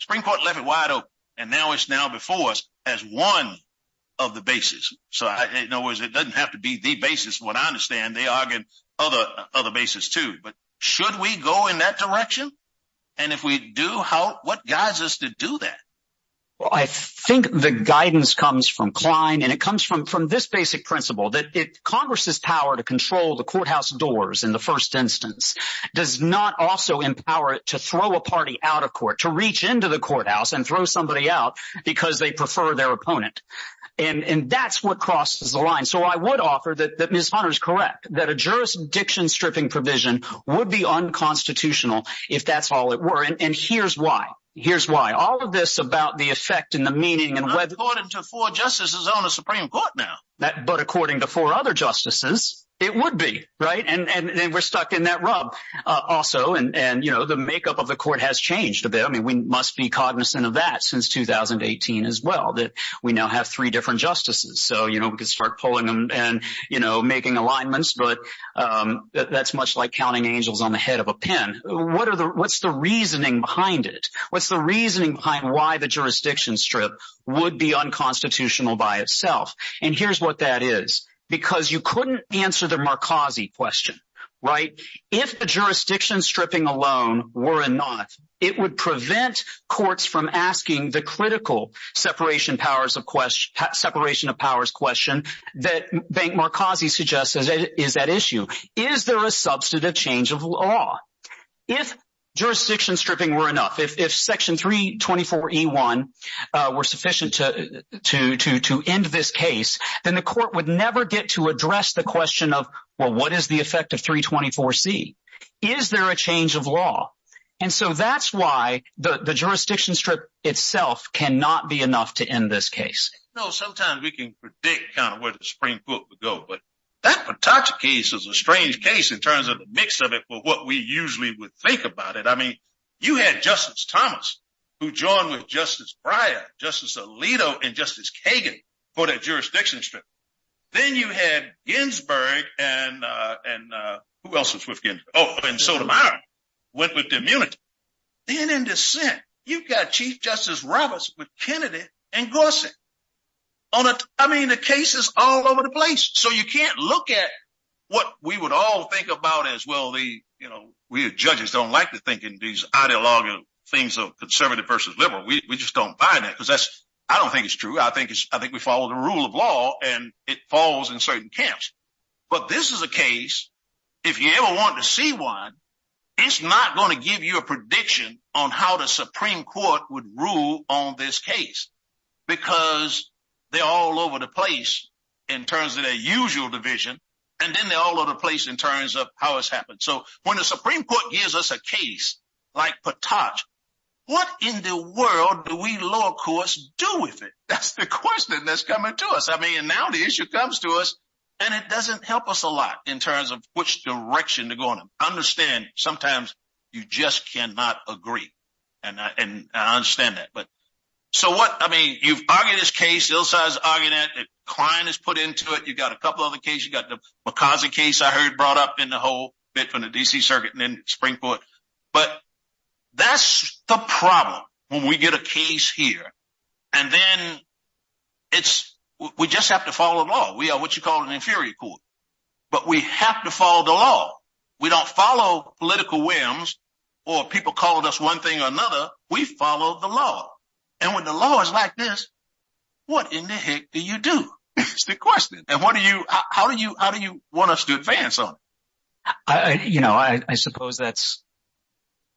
Spring Court left it wide open. And now it's now before us as one of the bases. So in other words, it doesn't have to be the basis. What I understand, they argued other bases, too. But should we go in that direction? And if we do, what guides us to do that? I think the guidance comes from Klein. And it comes from this basic principle that Congress's power to control the courthouse doors in the first instance does not also empower it to throw a party out of court, to reach into the courthouse and throw somebody out because they prefer their opponent. And that's what crosses the line. So I would offer that Ms. Hunter is correct, that a jurisdiction stripping provision would be unconstitutional if that's all it were. And here's why. Here's why. All of this about the effect and the meaning and whether— But according to four justices on the Supreme Court now. But according to four other justices, it would be, right? And we're stuck in that rub also. And, you know, the makeup of the court has changed a bit. I mean, we must be cognizant of that since 2018 as well, that we now have three different justices. So, you know, we could start pulling them and, you know, making alignments. But that's much like counting angels on the head of a pen. What's the reasoning behind it? What's the reasoning behind why the jurisdiction strip would be unconstitutional by itself? And here's what that is. Because you couldn't answer the Marcosi question, right? If the jurisdiction stripping alone were enough, it would prevent courts from asking the critical separation of powers question that Marcosi suggested is that issue. Is there a substantive change of law? If jurisdiction stripping were enough, if Section 324E1 were sufficient to end this case, then the court would never get to address the question of, well, what is the effect of 324C? Is there a change of law? And so that's why the jurisdiction strip itself cannot be enough to end this case. No, sometimes we can predict kind of where the Supreme Court would go. But that Patach case is a strange case in terms of the mix of it for what we usually would think about it. I mean, you had Justice Thomas, who joined with Justice Breyer, Justice Alito, and Justice Kagan for that jurisdiction strip. Then you had Ginsburg and who else was with Ginsburg? Oh, and Sotomayor went with the immunity. Then in dissent, you've got Chief Justice Roberts with Kennedy and Gorsuch. I mean, the case is all over the place. You can't look at what we would all think about as, well, we as judges don't like to think in these ideological things of conservative versus liberal. We just don't buy that because I don't think it's true. I think we follow the rule of law and it falls in certain camps. But this is a case, if you ever want to see one, it's not going to give you a prediction on how the Supreme Court would rule on this case because they're all over the place in terms of their usual division, and then they're all over the place in terms of how it's happened. So when the Supreme Court gives us a case like Pataj, what in the world do we law courts do with it? That's the question that's coming to us. I mean, and now the issue comes to us and it doesn't help us a lot in terms of which direction to go in. I understand sometimes you just cannot agree, and I understand that. So what? I mean, you've argued this case, Ilsa has argued it, Klein has put into it, you've got a couple of other cases. You've got the McCarthy case I heard brought up in the whole bit from the D.C. Circuit and then the Supreme Court. But that's the problem when we get a case here. And then we just have to follow the law. We are what you call an inferior court. But we have to follow the law. We don't follow political whims or people calling us one thing or another. We follow the law. And when the law is like this, what in the heck do you do? That's the question. And what do you, how do you, how do you want us to advance on it? I, you know, I suppose that's,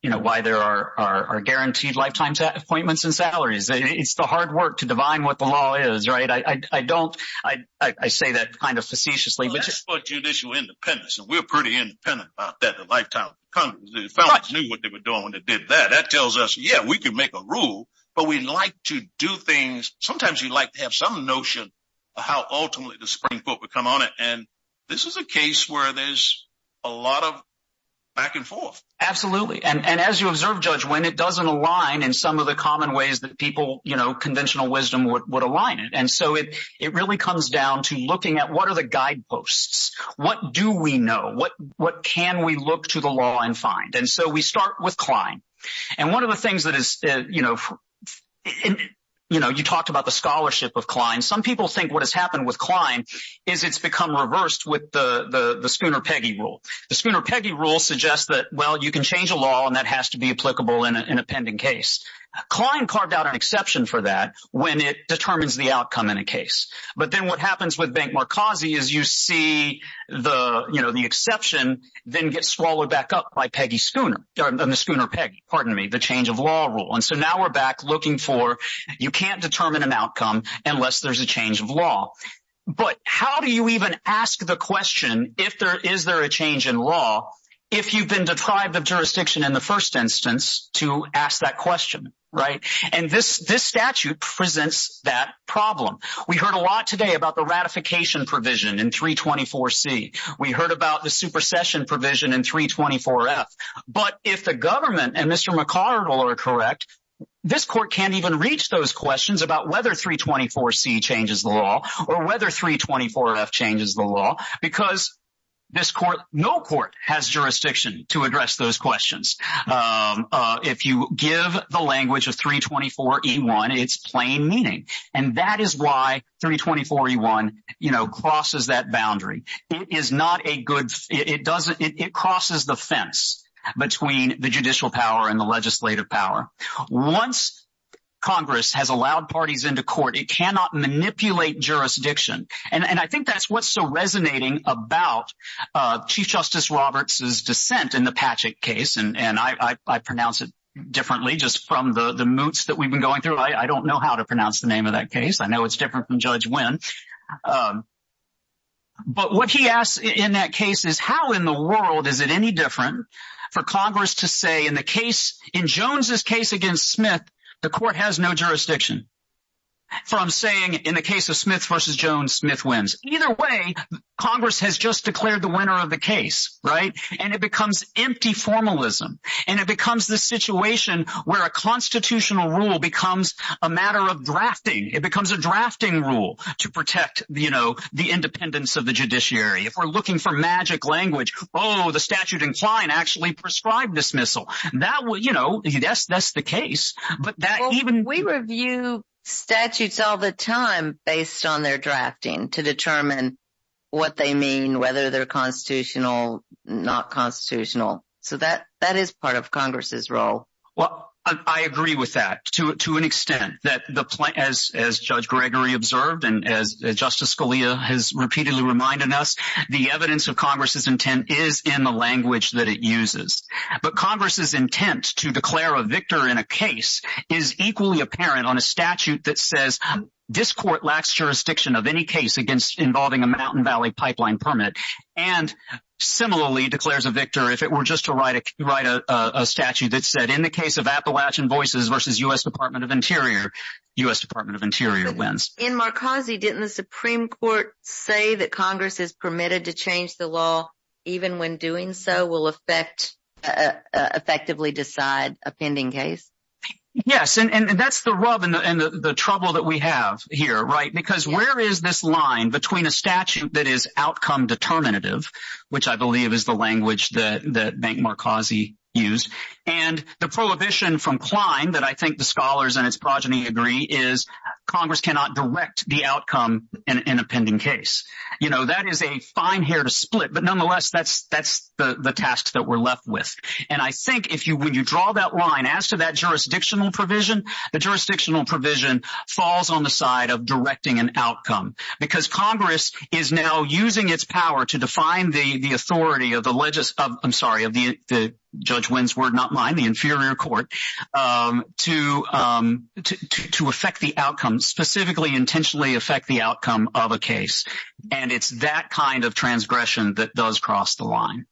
you know, why there are guaranteed lifetime appointments and salaries. It's the hard work to divine what the law is, right? I don't, I say that kind of facetiously. But that's what judicial independence, and we're pretty independent about that, the lifetime of Congress. The felons knew what they were doing when they did that. That tells us, yeah, we can make a rule, but we'd like to do things. Sometimes you'd like to have some notion of how ultimately the Supreme Court would come on it. And this is a case where there's a lot of back and forth. Absolutely. And as you observe, Judge, when it doesn't align in some of the common ways that people, you know, conventional wisdom would align it. And so it really comes down to looking at what are the guideposts? What do we know? What can we look to the law and find? And so we start with Klein. And one of the things that is, you know, you know, you talked about the scholarship of Klein. Some people think what has happened with Klein is it's become reversed with the Spooner-Peggy rule. The Spooner-Peggy rule suggests that, well, you can change a law and that has to be applicable in a pending case. Klein carved out an exception for that when it determines the outcome in a case. But then what happens with Benk-Markazi is you see the, you know, the exception then gets swallowed back up by Peggy Spooner, the Spooner-Peggy, pardon me, the change of law rule. And so now we're back looking for you can't determine an outcome unless there's a change of law. But how do you even ask the question if there is there a change in law if you've been deprived of jurisdiction in the first instance to ask that question, right? And this statute presents that problem. We heard a lot today about the ratification provision in 324C. We heard about the supersession provision in 324F. But if the government and Mr. McArdle are correct, this court can't even reach those questions about whether 324C changes the law or whether 324F changes the law because this court, no court has jurisdiction to address those questions. If you give the language of 324E1, it's plain meaning. And that is why 324E1, you know, crosses that boundary. It is not a good, it doesn't, it crosses the fence between the judicial power and the legislative power. Once Congress has allowed parties into court, it cannot manipulate jurisdiction. And I think that's what's so resonating about Chief Justice Roberts' dissent in the Patchett case. And I pronounce it differently just from the moots that we've been going through. I don't know how to pronounce the name of that case. I know it's different from Judge Wynn. But what he asks in that case is how in the world is it any different for Congress to say in the case, in Jones' case against Smith, the court has no jurisdiction from saying in the case of Smith versus Jones, Smith wins. Either way, Congress has just declared the winner of the case, right? And it becomes empty formalism. And it becomes the situation where a constitutional rule becomes a matter of drafting. It becomes a drafting rule to protect, you know, the independence of the judiciary. If we're looking for magic language, oh, the statute incline actually prescribed dismissal. That will, you know, yes, that's the case. But that even- We review statutes all the time based on their drafting to determine what they mean, whether they're constitutional, not constitutional. So that is part of Congress's role. Well, I agree with that to an extent that as Judge Gregory observed and as Justice Scalia has repeatedly reminded us, the evidence of Congress's intent is in the language that it uses. But Congress's intent to declare a victor in a case is equally apparent on a statute that says this court lacks jurisdiction of any case against involving a Mountain Valley pipeline permit and similarly declares a victor if it were just to write a statute that said in the case of Appalachian Voices versus U.S. Department of Interior, U.S. Department of Interior wins. In Marcosi, didn't the Supreme Court say that Congress is permitted to change the law even when doing so will affect, effectively decide a pending case? Yes, and that's the rub and the trouble that we have here, right? Because where is this line between a statute that is outcome determinative, which I believe is the language that Bank Marcosi used, and the prohibition from Klein that I think the scholars and his progeny agree is Congress cannot direct the outcome in a pending case. You know, that is a fine hair to split, but nonetheless, that's the task that we're left with. And I think if you, when you draw that line as to that jurisdictional provision, the jurisdictional provision falls on the side of directing an outcome because Congress is now using its power to define the authority of the, I'm sorry, of the, Judge Wynn's word, not mine, the inferior court, to affect the outcome, specifically intentionally affect the outcome of a case. And it's that kind of transgression that does cross the line.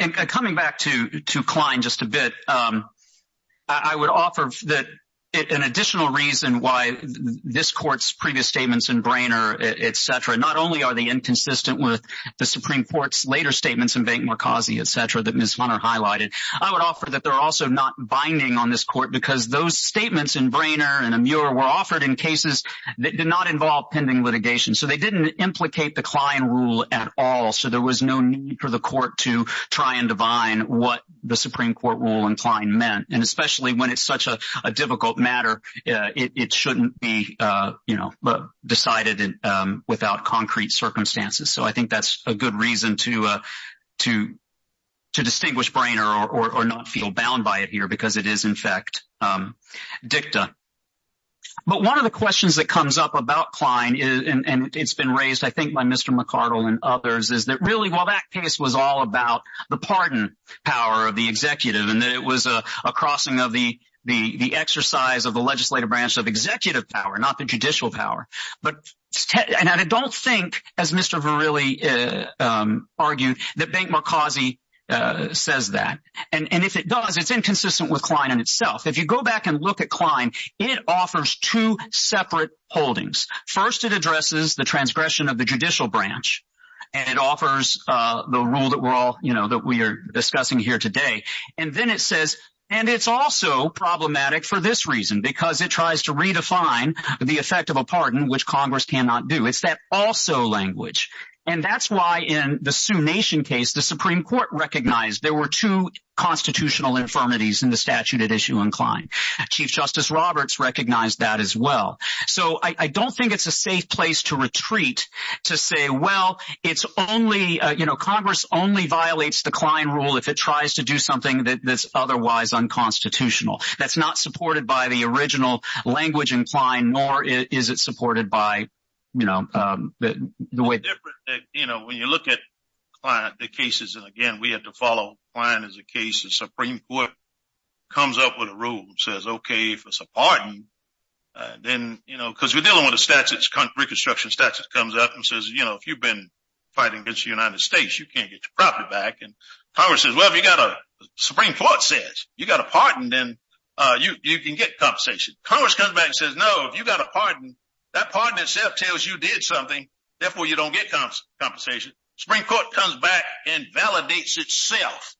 And coming back to Klein just a bit, I would offer that an additional reason why this court's previous statements in Brainerd, et cetera, not only are they inconsistent with the Supreme Court's later statements in Bank Marcosi, et cetera, that Ms. Hunter highlighted, I would offer that they're also not binding on this court because those statements in Brainerd and Amur were offered in cases that did not involve pending litigation. So they didn't implicate the Klein rule at all. So there was no need for the court to try and divine what the Supreme Court rule in Klein meant. And especially when it's such a difficult matter, it shouldn't be decided without concrete circumstances. So I think that's a good reason to distinguish Brainerd or not feel bound by it here because it is, in fact, dicta. But one of the questions that comes up about Klein is, and it's been raised, I think, by Mr. McArdle and others, is that really, while that case was all about the pardon power of the executive and that it was a crossing of the exercise of the legislative branch of executive power, not the judicial power. But I don't think, as Mr. Verrilli argued, that Bank Marcosi says that. And if it does, it's inconsistent with Klein in itself. If you go back and look at Klein, it offers two separate holdings. First, it addresses the transgression of the judicial branch. And it offers the rule that we're discussing here today. And then it says, and it's also problematic for this reason, because it tries to redefine the effect of a pardon, which Congress cannot do. It's that also language. And that's why in the Sioux Nation case, the Supreme Court recognized there were two infirmities in the statute at issue in Klein. Chief Justice Roberts recognized that as well. So I don't think it's a safe place to retreat to say, well, it's only, you know, Congress only violates the Klein rule if it tries to do something that's otherwise unconstitutional. That's not supported by the original language in Klein, nor is it supported by, you know, the way that, you know, when you look at the cases, and again, we have to follow Klein as a case, the Supreme Court comes up with a rule that says, okay, if it's a pardon, then, you know, because we're dealing with a statute, Reconstruction statute comes up and says, you know, if you've been fighting against the United States, you can't get your property back. And Congress says, well, if you got a, Supreme Court says, you got a pardon, then you can get compensation. Congress comes back and says, no, if you got a pardon, that pardon itself tells you did something, therefore you don't get compensation. Supreme Court comes back and validates itself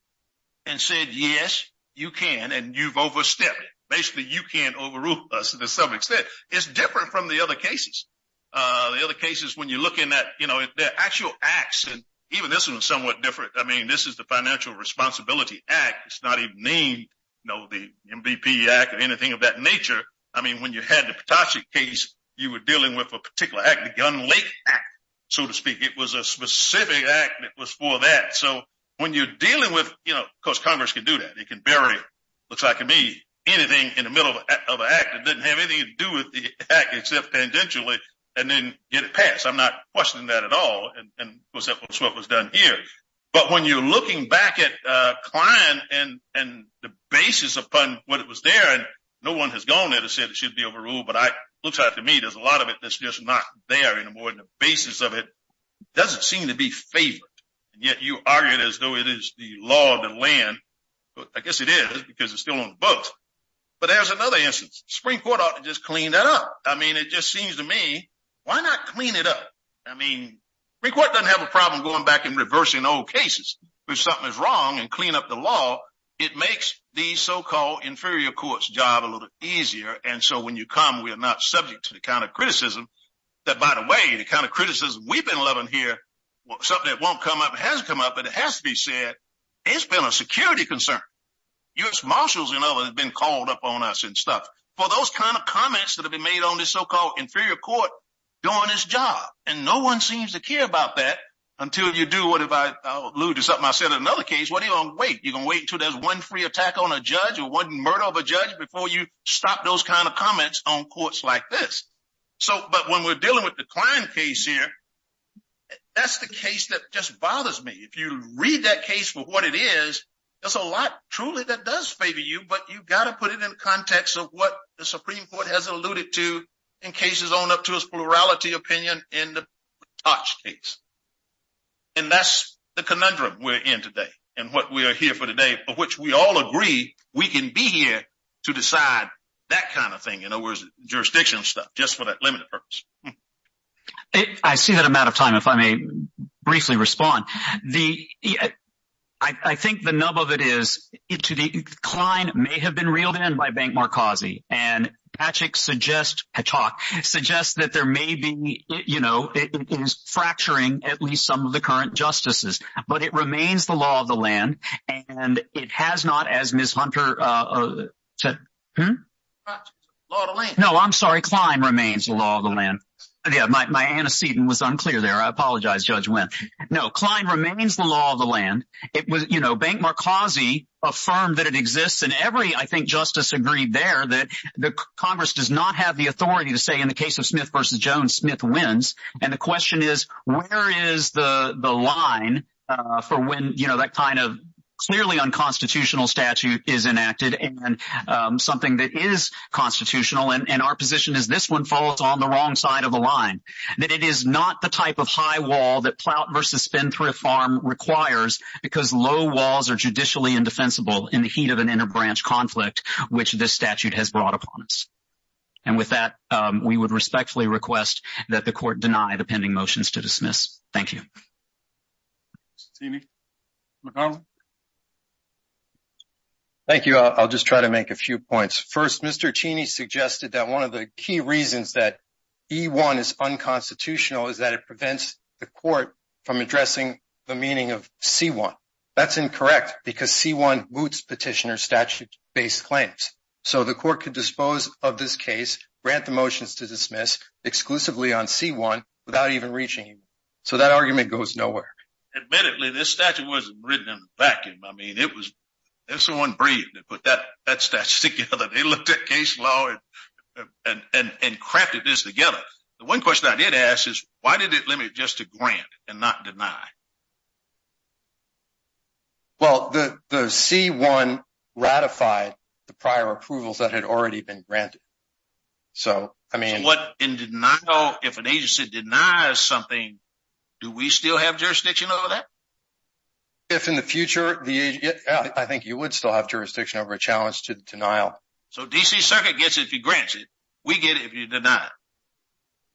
and said, yes, you can, and you've overstepped. Basically, you can't overrule us, as the subject said. It's different from the other cases. The other cases, when you're looking at, you know, the actual acts, and even this one is somewhat different. I mean, this is the Financial Responsibility Act. It's not even named, you know, the MVP Act or anything of that nature. I mean, when you had the Petoskey case, you were dealing with a particular act, the Gun Lake Act, so to speak. It was a specific act that was for that. So, when you're dealing with, you know, of course, Congress could do that. They could bury it. Looks like to me, anything in the middle of an act that didn't have anything to do with the act, except tangentially, and then get it passed. I'm not questioning that at all. And of course, that's what was done here. But when you're looking back at Klein and the basis upon what it was there, and no one has gone there to say it should be overruled, but it looks like to me, there's a lot of it that's just not there anymore. And the basis of it doesn't seem to be favored. Yet, you argue it as though it is the law of the land. I guess it is, because it's still on the books. But there's another instance. Spring Court ought to just clean that up. I mean, it just seems to me, why not clean it up? I mean, Spring Court doesn't have a problem going back and reversing old cases. If something is wrong and clean up the law, it makes the so-called inferior courts job a little easier. And so when you come, we are not subject to the kind of criticism that, by the way, the kind of criticism we've been loving here, something that won't come up, hasn't come up, but it has to be said, it's been a security concern. U.S. Marshals and others have been called up on us and stuff for those kind of comments that have been made on this so-called inferior court doing its job. And no one seems to care about that until you do what if I alluded to something I said in another case, what are you going to wait? You're going to wait until there's one free attack on a judge or one murder of a judge before you stop those kind of comments on courts like this. So, but when we're dealing with the Klein case here, that's the case that just bothers me. If you read that case for what it is, there's a lot truly that does favor you, but you've got to put it in context of what the Supreme Court has alluded to in cases on up to this plurality opinion in the Tots case. And that's the conundrum we're in today and what we are here for today, for which we all agree, we can be here to decide that kind of thing. In other words, jurisdiction stuff, just for that limited purpose. I see that I'm out of time. If I may briefly respond, the, I think the nub of it is it to the Klein may have been reeled in by Bank Markazi and Patrick suggest a talk suggest that there may be, you know, it is fracturing at least some of the current justices, but it remains the law of the land and it has not, as Ms. Hunter said, hmm? Law of the land. No, I'm sorry. Klein remains the law of the land. My antecedent was unclear there. I apologize, Judge Wendt. No, Klein remains the law of the land. It was, you know, Bank Markazi affirmed that it exists and every, I think, justice agreed there that the Congress does not have the authority to say in the case of Smith versus Jones, Smith wins. And the question is, where is the line for when, you know, that kind of clearly unconstitutional statute is enacted and something that is constitutional and our position is this one falls on the wrong side of the line, that it is not the type of high wall that Plout versus Spendthrift Farm requires because low walls are judicially indefensible in the heat of an interbranch conflict, which this statute has brought upon us. And with that, we would respectfully request that the court deny the pending motions to dismiss. Thank you. Thank you. I'll just try to make a few points. First, Mr. Cheney suggested that one of the key reasons that E-1 is unconstitutional is that it prevents the court from addressing the meaning of C-1. That's incorrect because C-1 moots petitioner statute based claims. So, the court could dispose of this case, grant the motions to dismiss exclusively on C-1 without even reaching him. So, that argument goes nowhere. Admittedly, this statute wasn't written in a vacuum. I mean, it was, it's the one brief that put that statute together. They looked at case law and crafted this together. The one question I did ask is, why did it limit just to grant and not deny? Well, the C-1 ratified the prior approvals that had already been granted. So, I mean- What, in denial, if an agency denies something, do we still have jurisdiction over that? If in the future, the, I think you would still have jurisdiction over a challenge to denial. So, D.C. Circuit gets it if he grants it. We get it if you deny it.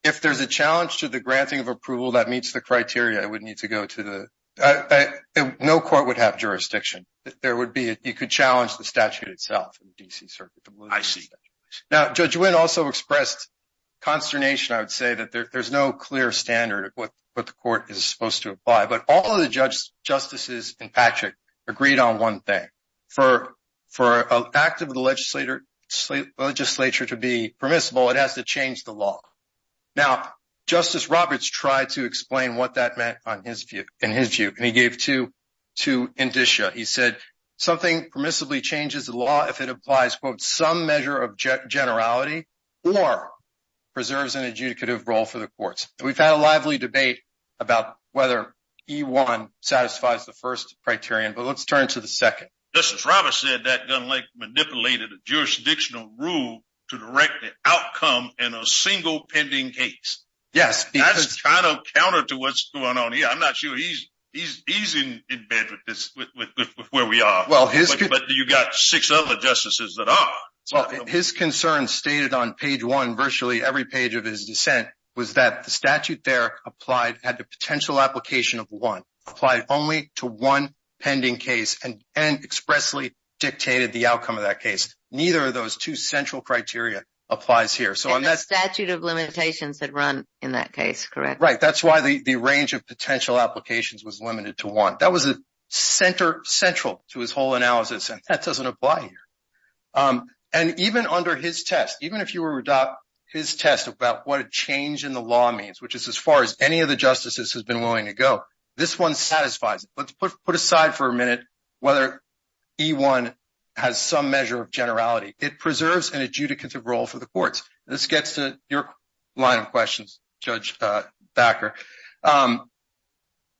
If there's a challenge to the granting of approval that meets the criteria, I would need to go to the D.C. Circuit. I, no court would have jurisdiction. There would be, you could challenge the statute itself in the D.C. Circuit. I see. Now, Judge Witt also expressed consternation, I would say, that there's no clear standard of what the court is supposed to apply. But all of the judges, justices, and Patrick agreed on one thing. For an act of the legislature to be permissible, it has to change the law. Now, Justice Roberts tried to explain what that meant in his view, and he gave two indicia. He said, something permissibly changes the law if it applies, quote, some measure of generality or preserves an adjudicative role for the courts. We've had a lively debate about whether E-1 satisfies the first criterion, but let's turn to the second. Justice Roberts said that Dunlake manipulated a jurisdictional rule to direct the outcome in a single pending case. Yes. That's kind of counter to what's going on here. I'm not sure he's in bed with where we are. But you've got six other justices that are. Well, his concern stated on page one, virtually every page of his dissent, was that the statute there had the potential application of one, applied only to one pending case, and expressly dictated the outcome of that case. Neither of those two central criteria applies here. The statute of limitations that run in that case, correct? Right. That's why the range of potential applications was limited to one. That was central to his whole analysis, and that doesn't apply here. And even under his test, even if you were to adopt his test about what a change in the law means, which is as far as any of the justices has been willing to go, this one satisfies it. Let's put aside for a minute whether E-1 has some measure of generality. It preserves an adjudicative role for the courts. This gets to your line of questions, Judge Bakker.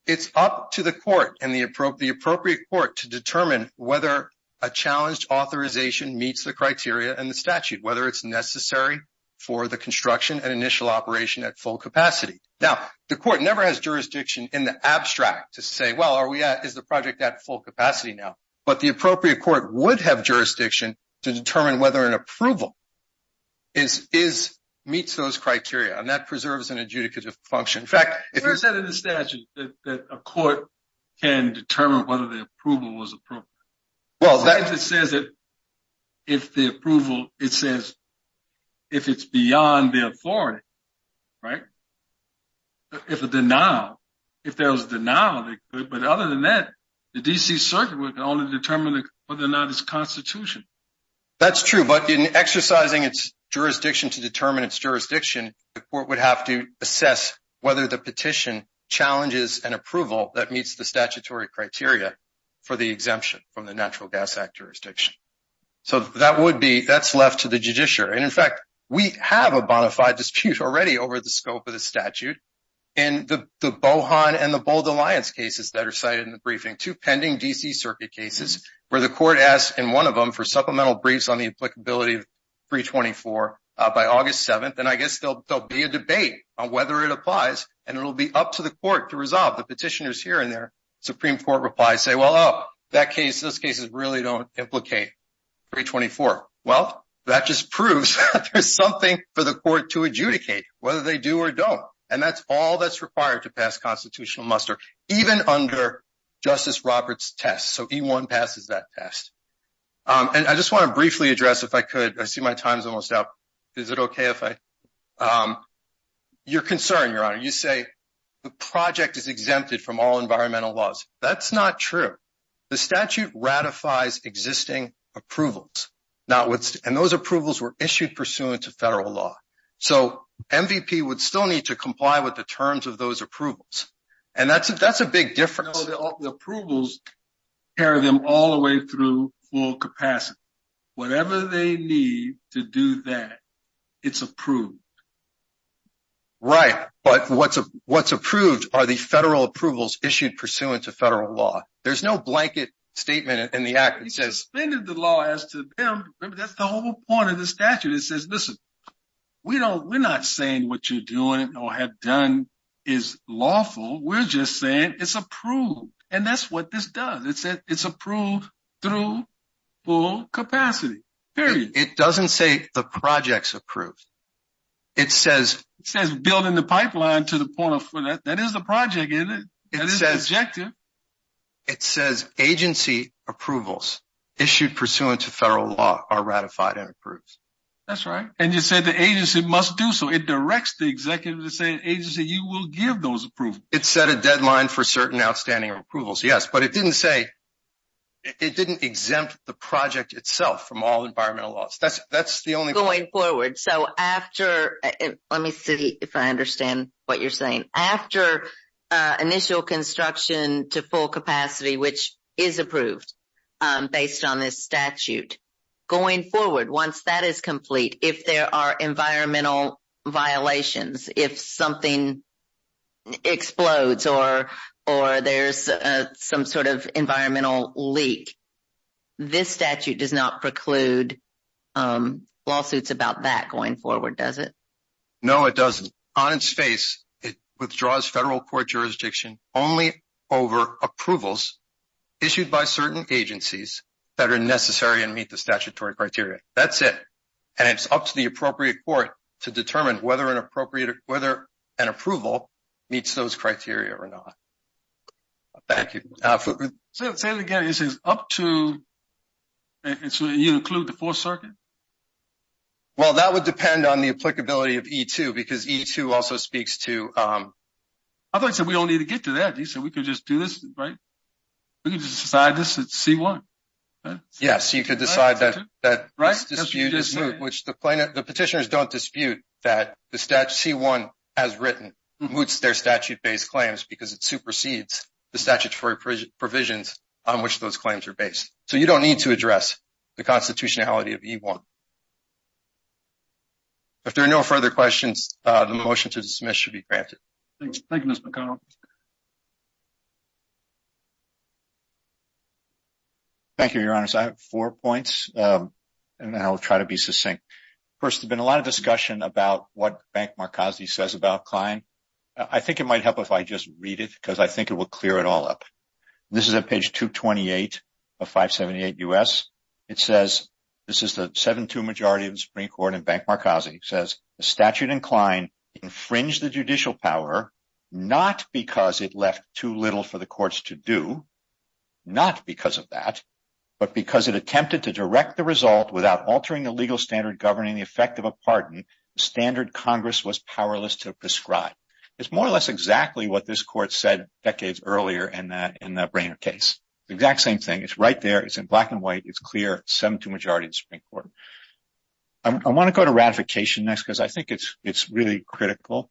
It's up to the court and the appropriate court to determine whether a challenged authorization meets the criteria in the statute, whether it's necessary for the construction and initial operation at full capacity. Now, the court never has jurisdiction in the abstract to say, well, is the project at full capacity now? But the appropriate court would have jurisdiction to determine whether an approval meets those criteria. And that preserves an adjudicative function. In fact, if you're saying in the statute that a court can determine whether the approval was appropriate, well, that just says that if the approval, it says if it's beyond the authority, right, if it's a denial, if there was a denial, they could. But other than that, the D.C. Circuit would only determine whether or not it's constitution. That's true. But in exercising its jurisdiction to determine its jurisdiction, the court would have to assess whether the petition challenges an approval that meets the statutory criteria for the exemption from the Natural Gas Act jurisdiction. So that would be, that's left to the judiciary. And in fact, we have a bona fide dispute already over the scope of the statute. In the Bohan and the Bold Alliance cases that are cited in the briefing, two pending D.C. Circuit cases where the court asked in one of them for supplemental briefs on the applicability of 324 by August 7th. And I guess there'll be a debate on whether it applies. And it'll be up to the court to resolve. The petitioners here and there, Supreme Court replies say, well, that case, those cases really don't implicate 324. Well, that just proves there's something for the court to adjudicate, whether they do or don't. And that's all that's required to pass constitutional muster, even under Justice Roberts' test. So E-1 passes that test. And I just want to briefly address, if I could, I see my time's almost up. Is it okay if I? You're concerned, Your Honor. You say the project is exempted from all environmental laws. That's not true. The statute ratifies existing approvals. And those approvals were issued pursuant to federal law. So MVP would still need to comply with the terms of those approvals. And that's a big difference. No, the approvals carry them all the way through full capacity. Whatever they need to do that, it's approved. Right. But what's approved are the federal approvals issued pursuant to federal law. There's no blanket statement in the act that says, they did the law as to them. That's the whole point of the statute. It says, listen, we're not saying what you're doing or have done is lawful. We're just saying it's approved. And that's what this does. It says it's approved through full capacity. Period. It doesn't say the project's approved. It says building the pipeline to the point of, that is the project, isn't it? That is the objective. It says agency approvals issued pursuant to federal law are ratified and approved. And you said the agency must do so. It directs the executive to say, agency, you will give those approvals. It set a deadline for certain outstanding approvals. Yes. But it didn't say, it didn't exempt the project itself from all environmental loss. That's the only point. Going forward. So after, let me see if I understand what you're saying. After initial construction to full capacity, which is approved based on this statute. Going forward, once that is complete, if there are environmental violations, if something explodes or there's some sort of environmental leak, this statute does not preclude lawsuits about that going forward, does it? No, it doesn't. On its face, it withdraws federal court jurisdiction only over approvals issued by certain agencies that are necessary and meet the statutory criteria. That's it. And it's up to the appropriate court to determine whether an appropriate, whether an approval meets those criteria or not. Thank you. Say it again. You said up to, so you include the fourth circuit? Well, that would depend on the applicability of E2 because E2 also speaks to, I thought you said we don't need to get to that. You said we could just do this, right? We could just decide this at C1, right? Yes, you could decide that the petitioners don't dispute that the statute C1 as written moots their statute-based claims because it supersedes the statutory provisions on which those claims are based. So you don't need to address the constitutionality of E1. If there are no further questions, the motion to dismiss should be granted. Thank you, Mr. McConnell. Thank you, Your Honor. So I have four points, and then I'll try to be succinct. First, there's been a lot of discussion about what Bank Marcosi says about Klein. I think it might help if I just read it because I think it will clear it all up. This is on page 228 of 578 U.S. It says, this is the 7-2 majority of the Supreme Court in Bank Marcosi. It says, the statute in Klein infringed the judicial power, not because it left too little for the courts to do. Not because of that, but because it attempted to direct the result without altering the legal standard governing the effect of a pardon, the standard Congress was powerless to prescribe. It's more or less exactly what this court said decades earlier in that Brehner case. The exact same thing. It's right there. It's in black and white. It's clear. 7-2 majority of the Supreme Court. I want to go to ratification next because I think it's really critical.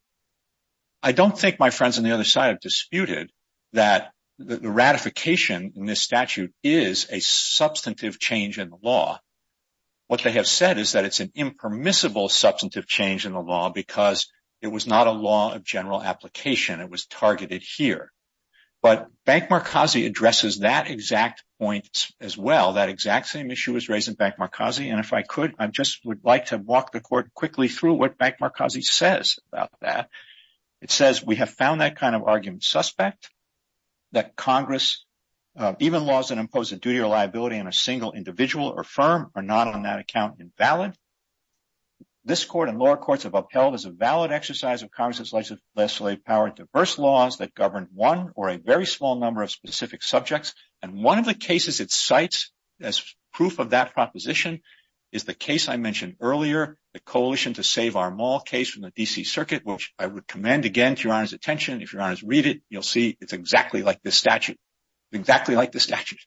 I don't think my friends on the other side have disputed that the ratification in this statute is a substantive change in the law. What they have said is that it's an impermissible substantive change in the law because it was not a law of general application. It was targeted here. But Bank Marcosi addresses that exact point as well. That exact same issue was raised in Bank Marcosi. And if I could, I just would like to walk the court quickly through what Bank Marcosi says about that. It says, we have found that kind of argument suspect. That Congress, even laws that impose a duty or liability on a single individual or firm are not on that account invalid. This court and lower courts have upheld as a valid exercise of Congress's legislative power diverse laws that govern one or a very small number of specific subjects. And one of the cases it cites as proof of that proposition is the case I mentioned earlier, the Coalition to Save our Mall case from the D.C. Circuit, which I would commend again to Your Honor's attention. If Your Honor's read it, you'll see it's exactly like this statute. Exactly like this statute.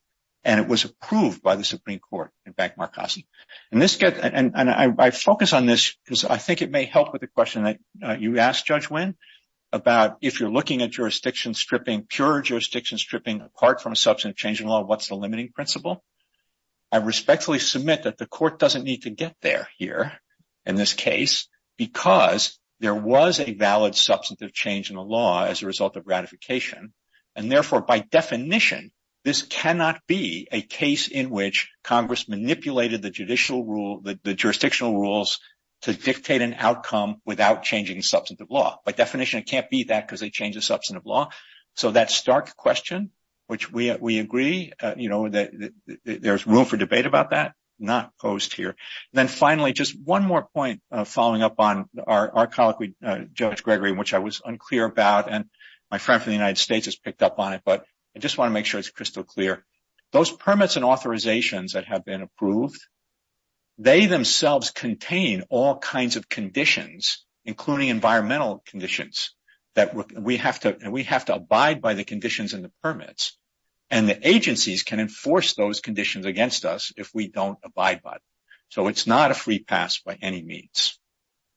And it was approved by the Supreme Court in Bank Marcosi. And this gets, and I focus on this because I think it may help with the question that you asked, Judge Winn, about if you're looking at jurisdiction stripping, pure jurisdiction stripping apart from a substantive change in the law, what's the limiting principle? I respectfully submit that the court doesn't need to get there here in this case because there was a valid substantive change in the law as a result of ratification. And therefore, by definition, this cannot be a case in which Congress manipulated the judicial rule, the jurisdictional rules to dictate an outcome without changing substantive law. By definition, it can't be that because they changed the substantive law. So that stark question, which we agree, you know, there's room for debate about that, not opposed here. Then finally, just one more point following up on our colleague, Judge Gregory, which I was unclear about, and my friend from the United States has picked up on it, but I just want to make sure it's crystal clear. Those permits and authorizations that have been approved, they themselves contain all conditions in the permits and the agencies can enforce those conditions against us if we don't abide by them. So it's not a free pass by any means.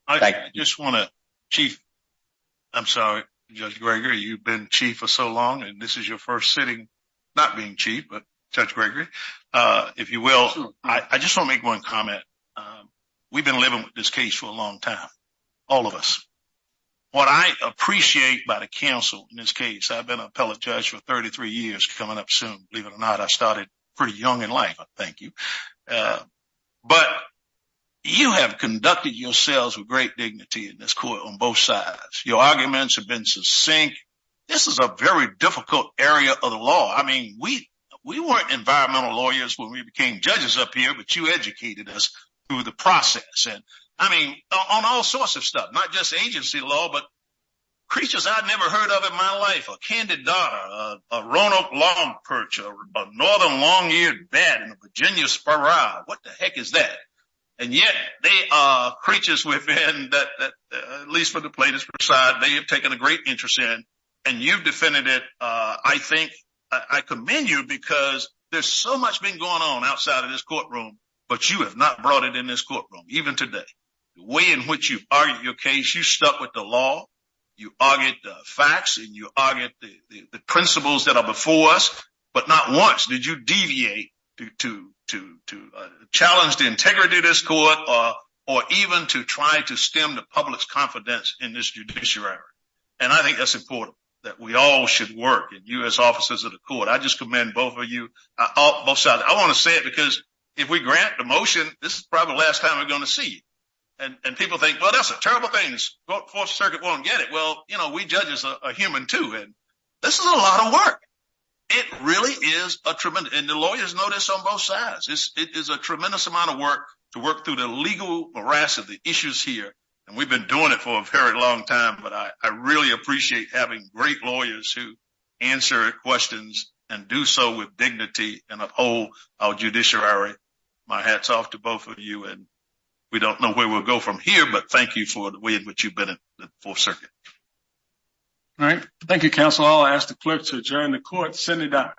I just want to, Chief, I'm sorry, Judge Gregory, you've been Chief for so long and this is your first sitting, not being Chief, but Judge Gregory, if you will, I just want to make one comment. We've been living with this case for a long time, all of us. What I appreciate about a counsel in this case, I've been an appellate judge for 33 years, coming up soon, believe it or not, I started pretty young in life, I thank you. But you have conducted yourselves with great dignity in this court on both sides. Your arguments have been succinct. This is a very difficult area of the law. I mean, we weren't environmental lawyers when we became judges up here, but you educated us through the process. I mean, on all sorts of stuff, not just agency law, but creatures I've never heard of in my life, a candida, a Roanoke Long Perch, a Northern Long-Eared Bat, a Virginia Sparrow, what the heck is that? And yet, they are creatures we've been, at least for the plaintiff's side, they have taken a great interest in, and you've defended it, I think, I commend you because there's so much been going on outside of this courtroom, but you have not brought it in this courtroom, even today. The way in which you've argued your case, you stuck with the law, you argued the facts, and you argued the principles that are before us, but not once did you deviate to challenge the integrity of this court or even to try to stem the public's confidence in this judiciary. And I think that's important, that we all should work, and you as officers of the court, I just commend both of you, both sides. I want to say it because if we grant the motion, this is probably the last time we're going to see it. And people think, well, that's a terrible thing, the Fourth Circuit won't get it. Well, you know, we judges are human, too, and this is a lot of work. It really is a tremendous, and the lawyers know this on both sides, it is a tremendous amount of work to work through the legal morass of the issues here, and we've been doing it for a very long time, but I really appreciate having great lawyers who answer questions and do so with dignity and uphold our judiciary. My hat's off to both of you, and we don't know where we'll go from here, but thank you for the way in which you've been in the Fourth Circuit. All right. Thank you, counsel. I'll ask the clerk to adjourn the court. Sunny Dye.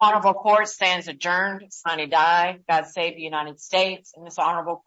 Honorable court stands adjourned. Sunny Dye. God save the United States and this honorable court.